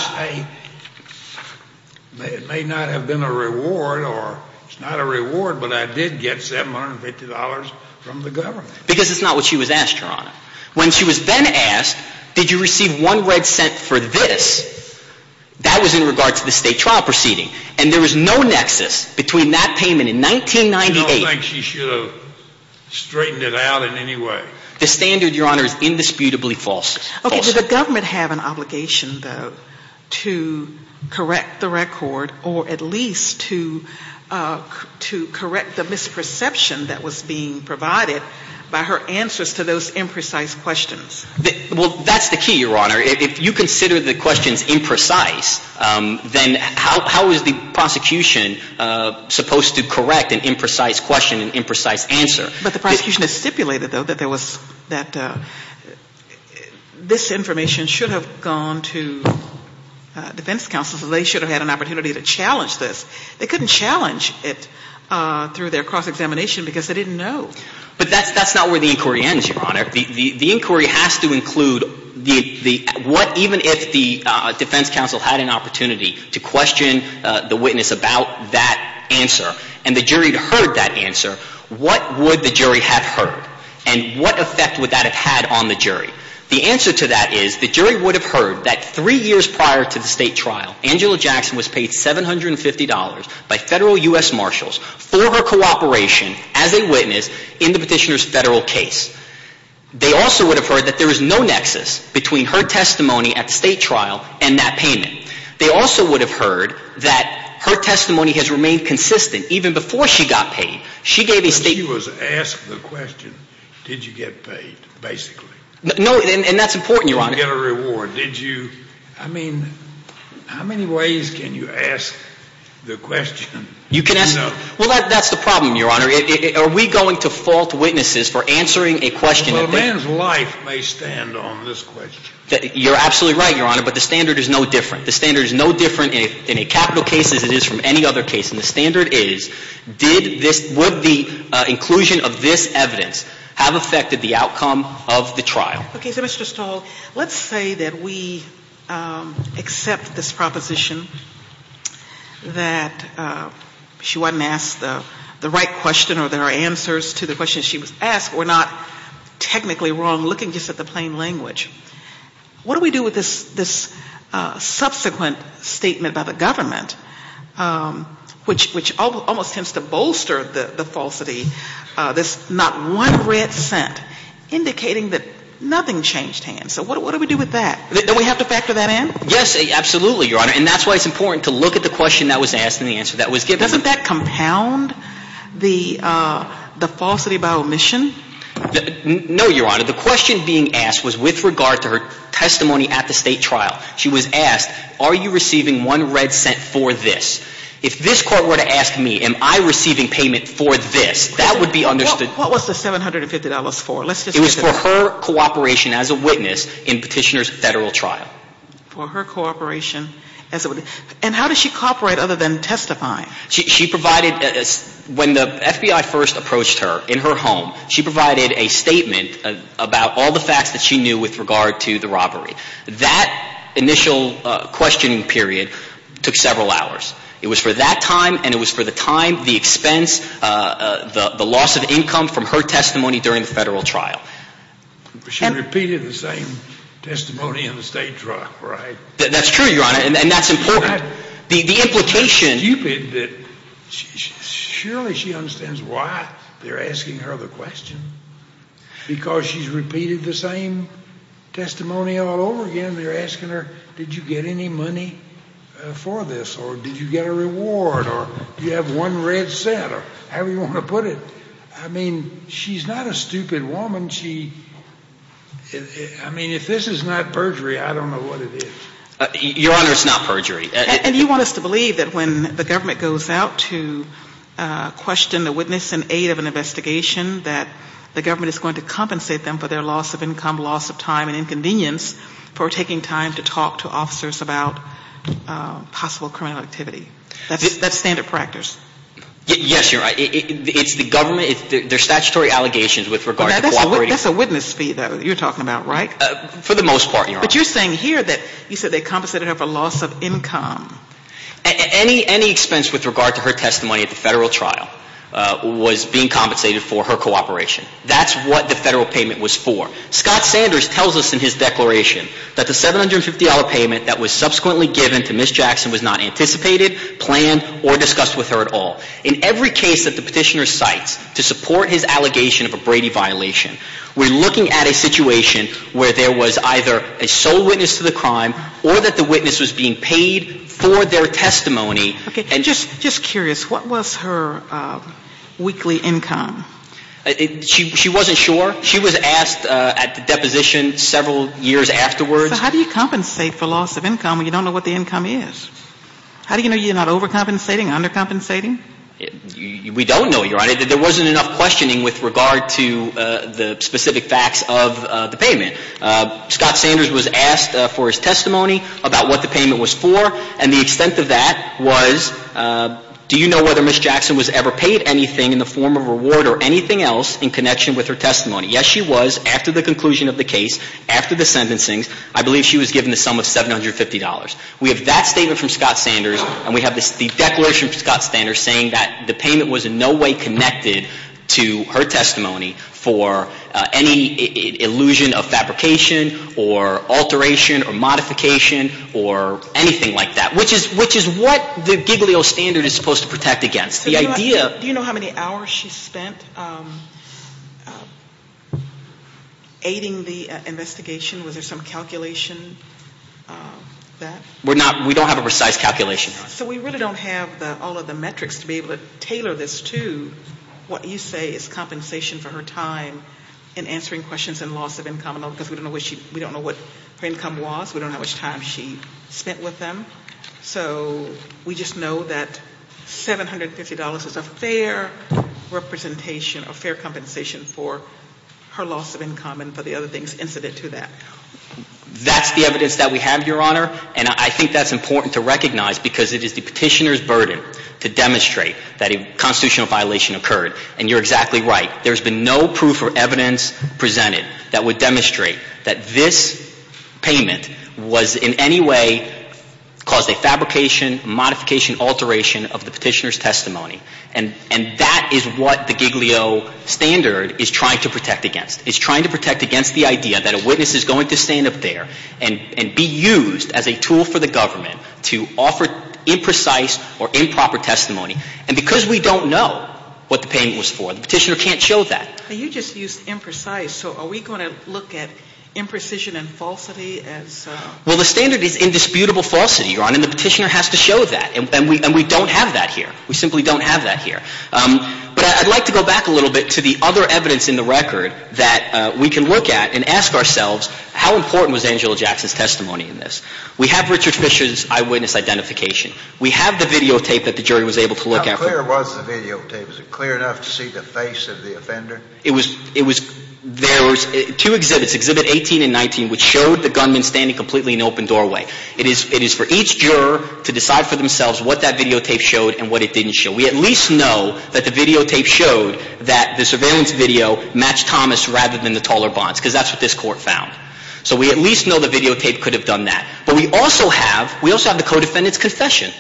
I may not have been a reward or – it's not a reward, but I did get $750 from the government. Because it's not what she was asked, Your Honor. When she was then asked, did you receive one red cent for this, that was in regard to the State trial proceeding. And there was no nexus between that payment in 1998 – I don't think she should have straightened it out in any way. The standard, Your Honor, is indisputably false. Okay. Did the government have an obligation, though, to correct the record or at least to correct the misperception that was being provided by her answers to those imprecise questions? Well, that's the key, Your Honor. If you consider the questions imprecise, then how is the prosecution supposed to correct an imprecise question, an imprecise answer? But the prosecution has stipulated, though, that there was – that this information should have gone to defense counsel, so they should have had an opportunity to challenge this. They couldn't challenge it through their cross-examination because they didn't know. But that's not where the inquiry ends, Your Honor. The inquiry has to include the – what – even if the defense counsel had an opportunity to question the witness about that answer and the jury had heard that answer, what would the jury have heard? And what effect would that have had on the jury? The answer to that is the jury would have heard that three years prior to the state trial, Angela Jackson was paid $750 by federal U.S. marshals for her cooperation as a witness in the petitioner's federal case. They also would have heard that there is no nexus between her testimony at the state trial and that payment. They also would have heard that her testimony has remained consistent even before she got paid. She gave a – She was asked the question, did you get paid, basically. No, and that's important, Your Honor. Did you get a reward? Did you – I mean, how many ways can you ask the question? You can ask – well, that's the problem, Your Honor. Are we going to fault witnesses for answering a question that they – Well, a man's life may stand on this question. You're absolutely right, Your Honor, but the standard is no different. In a capital case as it is from any other case. And the standard is, did this – would the inclusion of this evidence have affected the outcome of the trial? Okay. So, Mr. Stahl, let's say that we accept this proposition that she wasn't asked the right question or there are answers to the questions she was asked or not technically wrong, looking just at the plain language. What do we do with this subsequent statement by the government, which almost tends to bolster the falsity, this not one red cent indicating that nothing changed hands? So what do we do with that? Don't we have to factor that in? Yes, absolutely, Your Honor, and that's why it's important to look at the question that was asked and the answer that was given. Doesn't that compound the falsity by omission? No, Your Honor. The question being asked was with regard to her testimony at the state trial. She was asked, are you receiving one red cent for this? If this court were to ask me, am I receiving payment for this, that would be understood – What was the $750 for? Let's just get to that. It was for her cooperation as a witness in Petitioner's federal trial. For her cooperation as a – and how does she cooperate other than testifying? She provided – when the FBI first approached her in her home, she provided a statement about all the facts that she knew with regard to the robbery. That initial questioning period took several hours. It was for that time and it was for the time, the expense, the loss of income from her testimony during the federal trial. But she repeated the same testimony in the state trial, right? That's true, Your Honor, and that's important. It's stupid that – surely she understands why they're asking her the question. Because she's repeated the same testimony all over again. They're asking her, did you get any money for this or did you get a reward or do you have one red cent or however you want to put it. I mean, she's not a stupid woman. She – I mean, if this is not perjury, I don't know what it is. Your Honor, it's not perjury. And you want us to believe that when the government goes out to question a witness in aid of an investigation, that the government is going to compensate them for their loss of income, loss of time and inconvenience for taking time to talk to officers about possible criminal activity. That's standard practice. Yes, you're right. It's the government – they're statutory allegations with regard to cooperating. That's a witness fee, though, that you're talking about, right? For the most part, Your Honor. But what you're saying here that you said they compensated her for loss of income. Any expense with regard to her testimony at the federal trial was being compensated for her cooperation. That's what the federal payment was for. Scott Sanders tells us in his declaration that the $750 payment that was subsequently given to Ms. Jackson was not anticipated, planned, or discussed with her at all. In every case that the Petitioner cites to support his allegation of a Brady violation, we're looking at a situation where there was either a sole witness to the crime or that the witness was being paid for their testimony. Okay. And just curious, what was her weekly income? She wasn't sure. She was asked at the deposition several years afterwards. So how do you compensate for loss of income when you don't know what the income is? How do you know you're not overcompensating, undercompensating? We don't know, Your Honor. There wasn't enough questioning with regard to the specific facts of the payment. Scott Sanders was asked for his testimony about what the payment was for. And the extent of that was, do you know whether Ms. Jackson was ever paid anything in the form of reward or anything else in connection with her testimony? Yes, she was after the conclusion of the case, after the sentencing. I believe she was given the sum of $750. We have that statement from Scott Sanders, and we have the declaration from Scott Sanders saying that the payment was in no way connected to her testimony for any illusion of fabrication or alteration or modification or anything like that, which is what the Giglio standard is supposed to protect against. Do you know how many hours she spent aiding the investigation? Was there some calculation of that? We don't have a precise calculation. So we really don't have all of the metrics to be able to tailor this to what you say is compensation for her time in answering questions and loss of income, because we don't know what her income was. We don't know how much time she spent with them. So we just know that $750 is a fair representation or fair compensation for her loss of income and for the other things incident to that. That's the evidence that we have, Your Honor, and I think that's important to recognize because it is the petitioner's burden to demonstrate that a constitutional violation occurred. And you're exactly right. There's been no proof or evidence presented that would demonstrate that this payment was in any way caused a fabrication, modification, alteration of the petitioner's testimony. And that is what the Giglio standard is trying to protect against. It's trying to protect against the idea that a witness is going to stand up there and be used as a tool for the government to offer imprecise or improper testimony. And because we don't know what the payment was for, the petitioner can't show that. You just used imprecise. So are we going to look at imprecision and falsity? Well, the standard is indisputable falsity, Your Honor, and the petitioner has to show that. And we don't have that here. We simply don't have that here. But I'd like to go back a little bit to the other evidence in the record that we can look at and ask ourselves how important was Angela Jackson's testimony in this. We have Richard Fisher's eyewitness identification. We have the videotape that the jury was able to look at. How clear was the videotape? Was it clear enough to see the face of the offender? There were two exhibits, exhibit 18 and 19, which showed the gunman standing completely in open doorway. It is for each juror to decide for themselves what that videotape showed and what it didn't show. We at least know that the videotape showed that the surveillance video matched Thomas rather than the taller bonds because that's what this court found. So we at least know the videotape could have done that. But we also have, we also have the co-defendant's confession.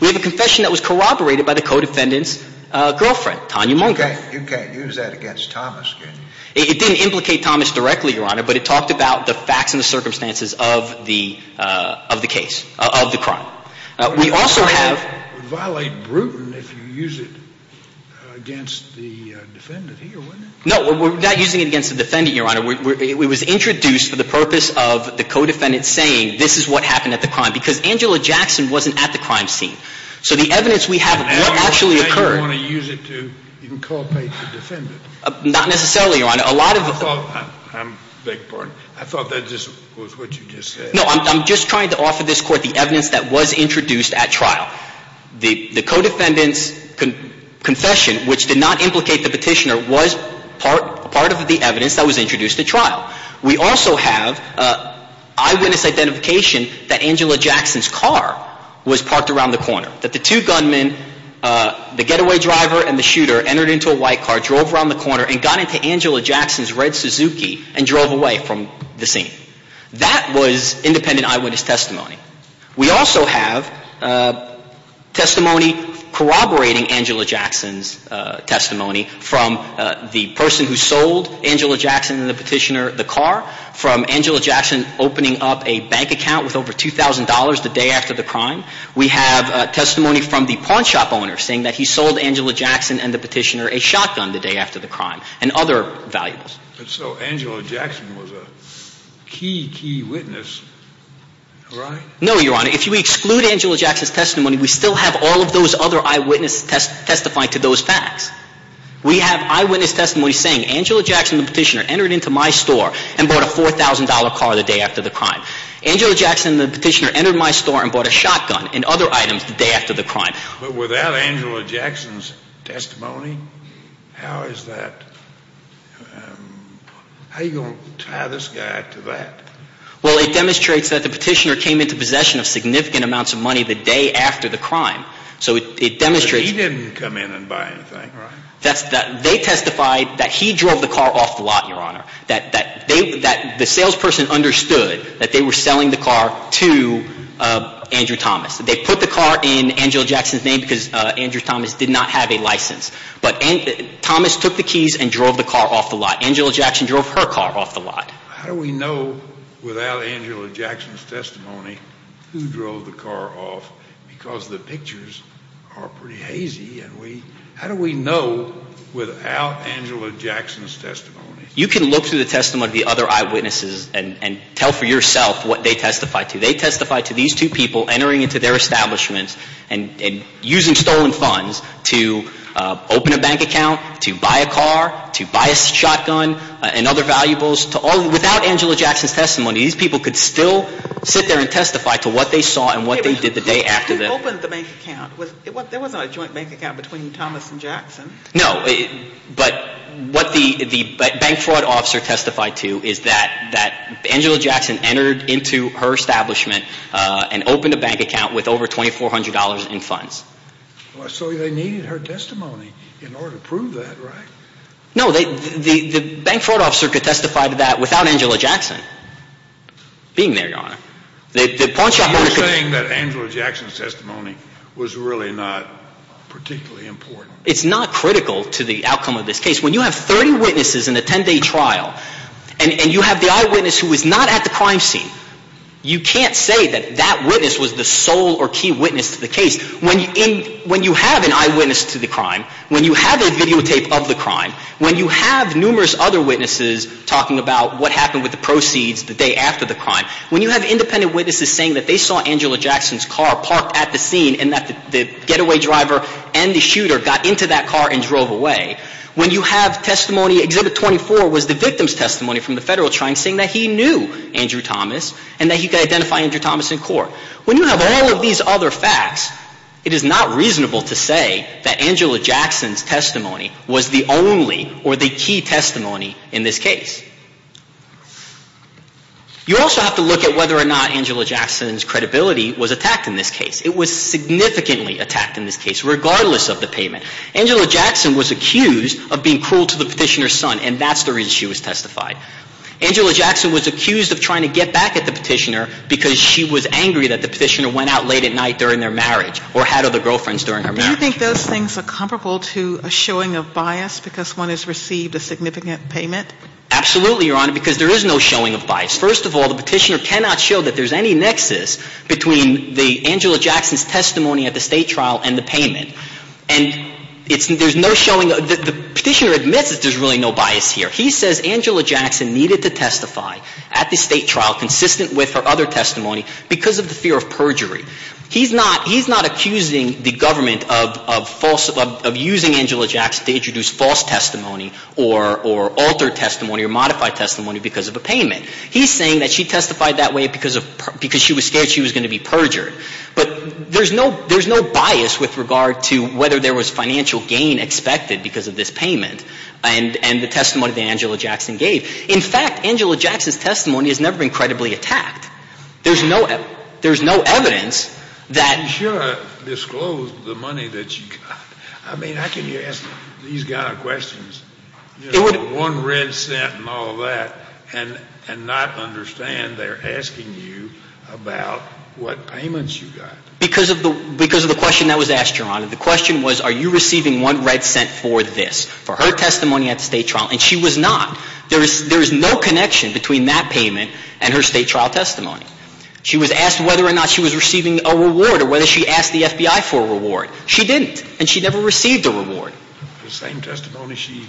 We have a confession that was corroborated by the co-defendant's girlfriend, Tanya Monk. You can't use that against Thomas, can you? It didn't implicate Thomas directly, Your Honor, but it talked about the facts and the circumstances of the case, of the crime. We also have. It would violate Bruton if you use it against the defendant here, wouldn't it? It was introduced for the purpose of the co-defendant saying this is what happened at the crime because Angela Jackson wasn't at the crime scene. So the evidence we have actually occurred. Now you want to use it to inculpate the defendant. Not necessarily, Your Honor. A lot of the. I beg your pardon. I thought that was what you just said. No, I'm just trying to offer this Court the evidence that was introduced at trial. The co-defendant's confession, which did not implicate the petitioner, was part of the evidence that was introduced at trial. We also have eyewitness identification that Angela Jackson's car was parked around the corner, that the two gunmen, the getaway driver and the shooter, entered into a white car, drove around the corner and got into Angela Jackson's red Suzuki and drove away from the scene. That was independent eyewitness testimony. We also have testimony corroborating Angela Jackson's testimony from the person who sold Angela Jackson and the petitioner the car, from Angela Jackson opening up a bank account with over $2,000 the day after the crime. We have testimony from the pawn shop owner saying that he sold Angela Jackson and the petitioner a shotgun the day after the crime and other valuables. But so Angela Jackson was a key, key witness, right? No, Your Honor. If you exclude Angela Jackson's testimony, we still have all of those other eyewitness testifying to those facts. We have eyewitness testimony saying Angela Jackson and the petitioner entered into my store and bought a $4,000 car the day after the crime. Angela Jackson and the petitioner entered my store and bought a shotgun and other items the day after the crime. But without Angela Jackson's testimony, how is that – how are you going to tie this guy to that? Well, it demonstrates that the petitioner came into possession of significant amounts of money the day after the crime. So it demonstrates – But he didn't come in and buy anything, right? They testified that he drove the car off the lot, Your Honor, that the salesperson understood that they were selling the car to Andrew Thomas. They put the car in Angela Jackson's name because Andrew Thomas did not have a license. But Thomas took the keys and drove the car off the lot. Angela Jackson drove her car off the lot. How do we know without Angela Jackson's testimony who drove the car off? Because the pictures are pretty hazy, and we – how do we know without Angela Jackson's testimony? You can look through the testimony of the other eyewitnesses and tell for yourself what they testified to. They testified to these two people entering into their establishments and using stolen funds to open a bank account, to buy a car, to buy a shotgun and other valuables. Without Angela Jackson's testimony, these people could still sit there and testify to what they saw and what they did the day after the – They opened the bank account. There wasn't a joint bank account between Thomas and Jackson. No, but what the bank fraud officer testified to is that Angela Jackson entered into her establishment and opened a bank account with over $2,400 in funds. So they needed her testimony in order to prove that, right? No, the bank fraud officer could testify to that without Angela Jackson being there, Your Honor. You're saying that Angela Jackson's testimony was really not particularly important. It's not critical to the outcome of this case. When you have 30 witnesses in a 10-day trial, and you have the eyewitness who was not at the crime scene, you can't say that that witness was the sole or key witness to the case. When you have an eyewitness to the crime, when you have a videotape of the crime, when you have numerous other witnesses talking about what happened with the proceeds the day after the crime, when you have independent witnesses saying that they saw Angela Jackson's car parked at the scene and that the getaway driver and the shooter got into that car and drove away, when you have testimony, Exhibit 24 was the victim's testimony from the federal trial saying that he knew Andrew Thomas and that he could identify Andrew Thomas in court. When you have all of these other facts, it is not reasonable to say that Angela Jackson's testimony was the only or the key testimony in this case. You also have to look at whether or not Angela Jackson's credibility was attacked in this case. It was significantly attacked in this case, regardless of the payment. Angela Jackson was accused of being cruel to the Petitioner's son, and that's the reason she was testified. Angela Jackson was accused of trying to get back at the Petitioner because she was angry that the Petitioner went out late at night during their marriage or had other girlfriends during her marriage. Do you think those things are comparable to a showing of bias because one has received a significant payment? Absolutely, Your Honor, because there is no showing of bias. First of all, the Petitioner cannot show that there is any nexus between Angela Jackson's testimony at the State trial and the payment. And there is no showing of – the Petitioner admits that there is really no bias here. He says Angela Jackson needed to testify at the State trial consistent with her other testimony because of the fear of perjury. He is not accusing the government of using Angela Jackson to introduce false testimony or altered testimony or modified testimony because of a payment. He is saying that she testified that way because of – because she was scared she was going to be perjured. But there is no – there is no bias with regard to whether there was financial gain expected because of this payment and the testimony that Angela Jackson gave. In fact, Angela Jackson's testimony has never been credibly attacked. There is no – there is no evidence that – You should have disclosed the money that she got. I mean, I can ask these kind of questions, you know, with one red cent and all that, and not understand they're asking you about what payments you got. Because of the – because of the question that was asked, Your Honor, the question was are you receiving one red cent for this, for her testimony at the State trial. And she was not. There is no connection between that payment and her State trial testimony. She was asked whether or not she was receiving a reward or whether she asked the FBI for a reward. She didn't. And she never received a reward. The same testimony she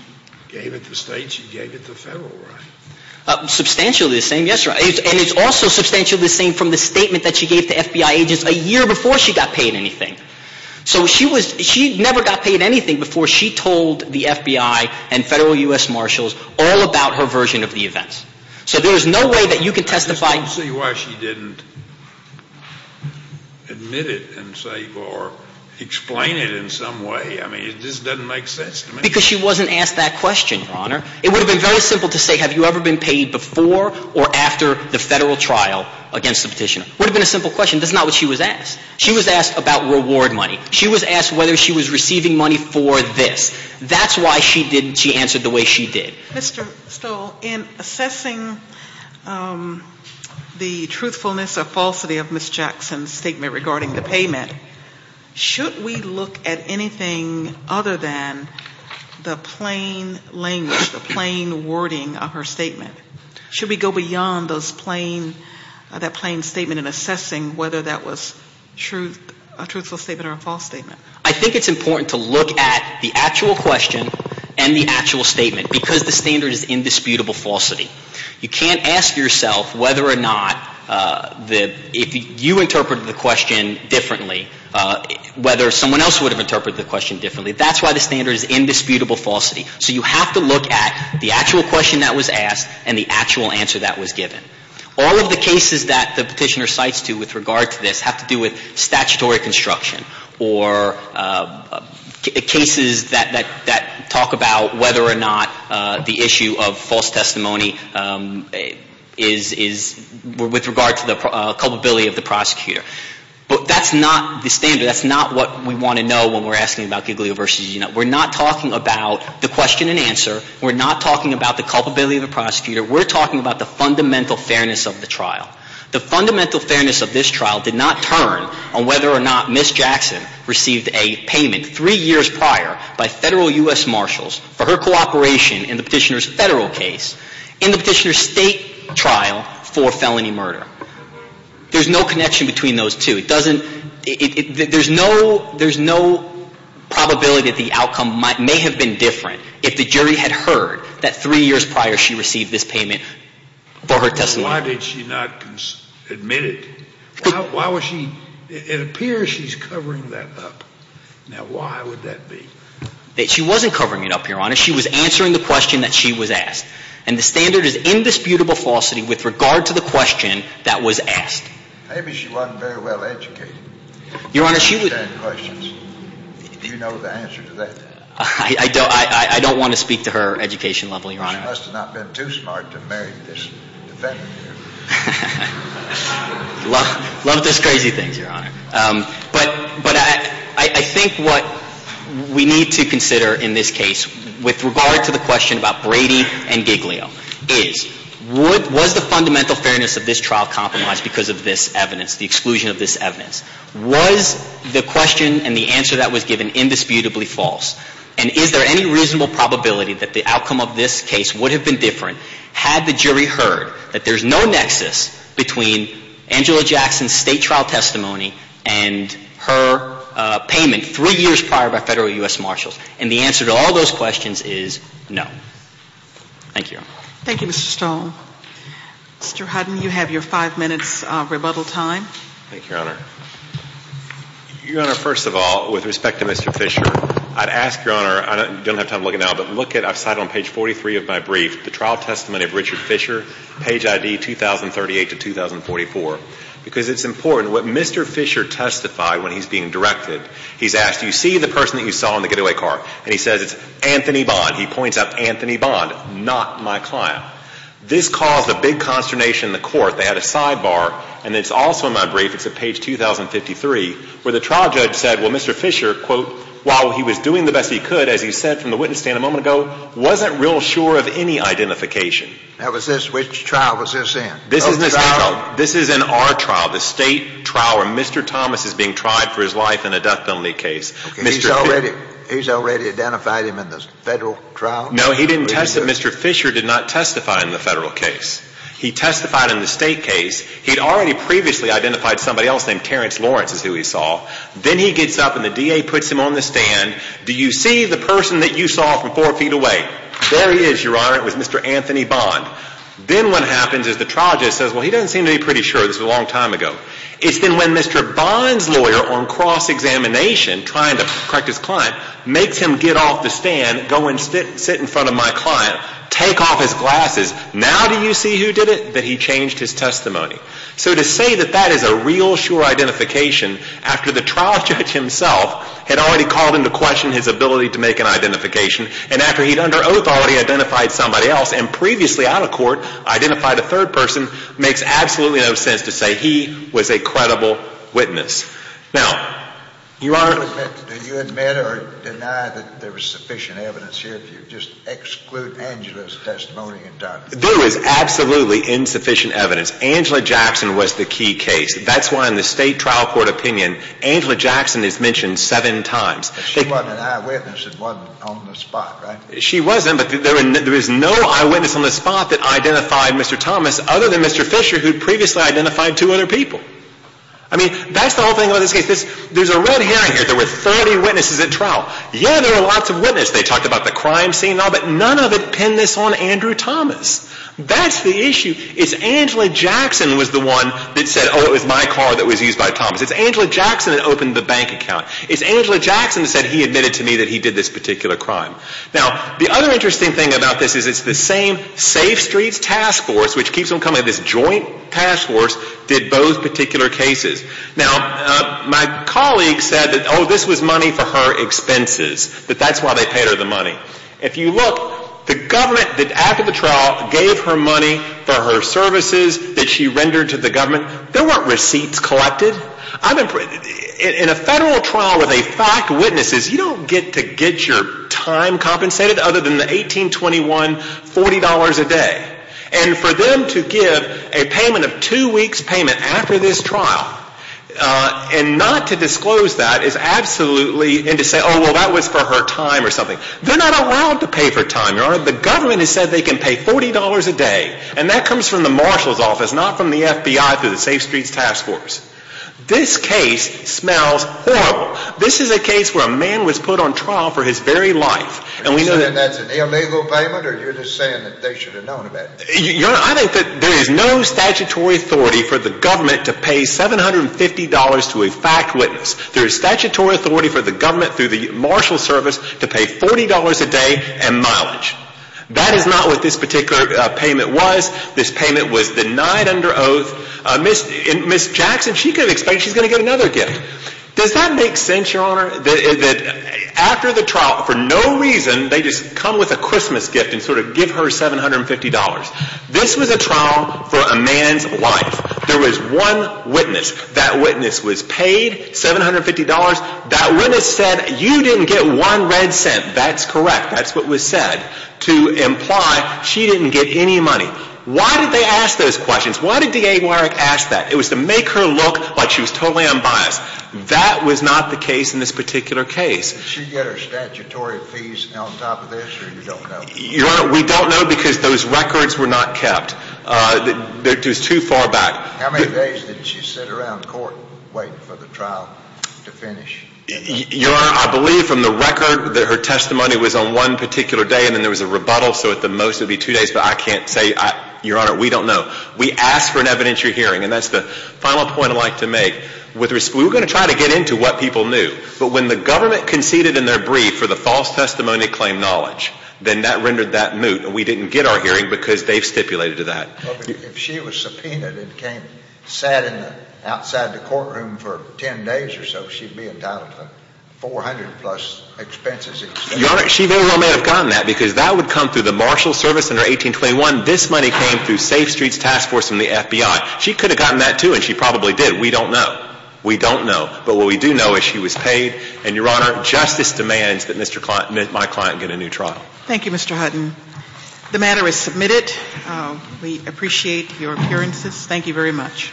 gave at the State, she gave at the Federal, right? Substantially the same. Yes, Your Honor. And it's also substantially the same from the statement that she gave to FBI agents a year before she got paid anything. So she was – she never got paid anything before she told the FBI and Federal U.S. Marshals all about her version of the events. So there is no way that you can testify – I just want to see why she didn't admit it and say or explain it in some way. I mean, this doesn't make sense to me. Because she wasn't asked that question, Your Honor. It would have been very simple to say have you ever been paid before or after the Federal trial against the Petitioner. It would have been a simple question. That's not what she was asked. She was asked about reward money. She was asked whether she was receiving money for this. That's why she did – she answered the way she did. Mr. Stoll, in assessing the truthfulness or falsity of Ms. Jackson's statement regarding the payment, should we look at anything other than the plain language, the plain wording of her statement? Should we go beyond those plain – that plain statement in assessing whether that was a truthful statement or a false statement? I think it's important to look at the actual question and the actual statement because the standard is indisputable falsity. You can't ask yourself whether or not the – if you interpreted the question differently, whether someone else would have interpreted the question differently. That's why the standard is indisputable falsity. So you have to look at the actual question that was asked and the actual answer that was given. All of the cases that the Petitioner cites to with regard to this have to do with statutory construction or cases that talk about whether or not the issue of false testimony is – with regard to the culpability of the prosecutor. But that's not the standard. That's not what we want to know when we're asking about Giglio v. Gina. We're not talking about the question and answer. We're not talking about the culpability of the prosecutor. We're talking about the fundamental fairness of the trial. The fundamental fairness of this trial did not turn on whether or not Ms. Jackson received a payment three years prior by Federal U.S. Marshals for her cooperation in the Petitioner's Federal case in the Petitioner's State trial for felony murder. There's no connection between those two. It doesn't – there's no – there's no probability that the outcome may have been different if the jury had heard that three years prior she received this payment for her testimony. Why did she not admit it? Why was she – it appears she's covering that up. Now, why would that be? She wasn't covering it up, Your Honor. She was answering the question that she was asked. And the standard is indisputable falsity with regard to the question that was asked. Maybe she wasn't very well educated. Your Honor, she would – Do you know the answer to that? I don't want to speak to her education level, Your Honor. She must have not been too smart to marry this defendant here. Love those crazy things, Your Honor. But I think what we need to consider in this case with regard to the question about Brady and Giglio is was the fundamental fairness of this trial compromised because of this evidence, the exclusion of this evidence? Was the question and the answer that was given indisputably false? And is there any reasonable probability that the outcome of this case would have been different had the jury heard that there's no nexus between Angela Jackson's state trial testimony and her payment three years prior by Federal U.S. Marshals? And the answer to all those questions is no. Thank you, Your Honor. Thank you, Mr. Stone. Mr. Hutton, you have your five minutes rebuttal time. Thank you, Your Honor. Your Honor, first of all, with respect to Mr. Fisher, I'd ask, Your Honor, I don't have time to look at it now, but look at, I've cited on page 43 of my brief, the trial testimony of Richard Fisher, page ID 2038 to 2044, because it's important what Mr. Fisher testified when he's being directed. He's asked, do you see the person that you saw in the getaway car? And he says, it's Anthony Bond. He points out Anthony Bond, not my client. This caused a big consternation in the court. They had a sidebar, and it's also in my brief. It's at page 2053, where the trial judge said, well, Mr. Fisher, quote, while he was doing the best he could, as he said from the witness stand a moment ago, wasn't real sure of any identification. Which trial was this in? This is in our trial, the State trial where Mr. Thomas is being tried for his life in a death penalty case. He's already identified him in the Federal trial? No, he didn't testify. Mr. Fisher did not testify in the Federal case. He testified in the State case. He had already previously identified somebody else named Terrence Lawrence as who he saw. Then he gets up, and the DA puts him on the stand. Do you see the person that you saw from four feet away? There he is, Your Honor. It was Mr. Anthony Bond. Then what happens is the trial judge says, well, he doesn't seem to be pretty sure. This was a long time ago. It's then when Mr. Bond's lawyer, on cross-examination, trying to correct his client, makes him get off the stand, go and sit in front of my client, take off his glasses. Now do you see who did it? That he changed his testimony. So to say that that is a real sure identification after the trial judge himself had already called into question his ability to make an identification and after he'd under oath already identified somebody else and previously out of court identified a third person makes absolutely no sense to say he was a credible witness. Now, Your Honor. Do you admit or deny that there was sufficient evidence here or do you just exclude Angela's testimony entirely? There was absolutely insufficient evidence. Angela Jackson was the key case. That's why in the state trial court opinion, Angela Jackson is mentioned seven times. But she wasn't an eyewitness and wasn't on the spot, right? She wasn't, but there was no eyewitness on the spot that identified Mr. Thomas other than Mr. Fisher who'd previously identified two other people. I mean, that's the whole thing about this case. There's a red herring here. There were 30 witnesses at trial. Yeah, there were lots of witnesses. They talked about the crime scene and all, but none of it penned this on Andrew Thomas. That's the issue. It's Angela Jackson was the one that said, oh, it was my car that was used by Thomas. It's Angela Jackson that opened the bank account. It's Angela Jackson that said he admitted to me that he did this particular crime. Now, the other interesting thing about this is it's the same Safe Streets Task Force, which keeps them coming, this joint task force, did both particular cases. Now, my colleague said that, oh, this was money for her expenses, that that's why they paid her the money. If you look, the government that after the trial gave her money for her services that she rendered to the government, there weren't receipts collected. In a federal trial with a fact witness, you don't get to get your time compensated other than the $18.21, $40 a day. And for them to give a payment of two weeks' payment after this trial and not to disclose that is absolutely, and to say, oh, well, that was for her time or something. They're not allowed to pay for time, Your Honor. The government has said they can pay $40 a day, and that comes from the marshal's office, not from the FBI through the Safe Streets Task Force. This case smells horrible. This is a case where a man was put on trial for his very life. And we know that. You're saying that's an illegal payment, or you're just saying that they should have known about it? Your Honor, I think that there is no statutory authority for the government to pay $750 to a fact witness. There is statutory authority for the government through the marshal's service to pay $40 a day and mileage. That is not what this particular payment was. This payment was denied under oath. And Ms. Jackson, she could expect she's going to get another gift. Does that make sense, Your Honor, that after the trial, for no reason, they just come with a Christmas gift and sort of give her $750? This was a trial for a man's life. There was one witness. That witness was paid $750. That witness said you didn't get one red cent. That's correct. That's what was said to imply she didn't get any money. Why did they ask those questions? Why did D.A. Warrick ask that? It was to make her look like she was totally unbiased. That was not the case in this particular case. Did she get her statutory fees on top of this or you don't know? Your Honor, we don't know because those records were not kept. It was too far back. How many days did she sit around court waiting for the trial to finish? Your Honor, I believe from the record that her testimony was on one particular day and then there was a rebuttal, so at the most it would be two days, but I can't say. Your Honor, we don't know. We asked for an evidentiary hearing, and that's the final point I'd like to make. We were going to try to get into what people knew, but when the government conceded in their brief for the false testimony claim knowledge, then that rendered that moot. We didn't get our hearing because they've stipulated to that. If she was subpoenaed and sat outside the courtroom for 10 days or so, she'd be entitled to $400 plus expenses. Your Honor, she very well may have gotten that because that would come through the marshal service under 1821. This money came through Safe Streets Task Force and the FBI. She could have gotten that, too, and she probably did. We don't know. We don't know. But what we do know is she was paid, and, Your Honor, justice demands that my client get a new trial. Thank you, Mr. Hutton. The matter is submitted. We appreciate your appearances. Thank you very much.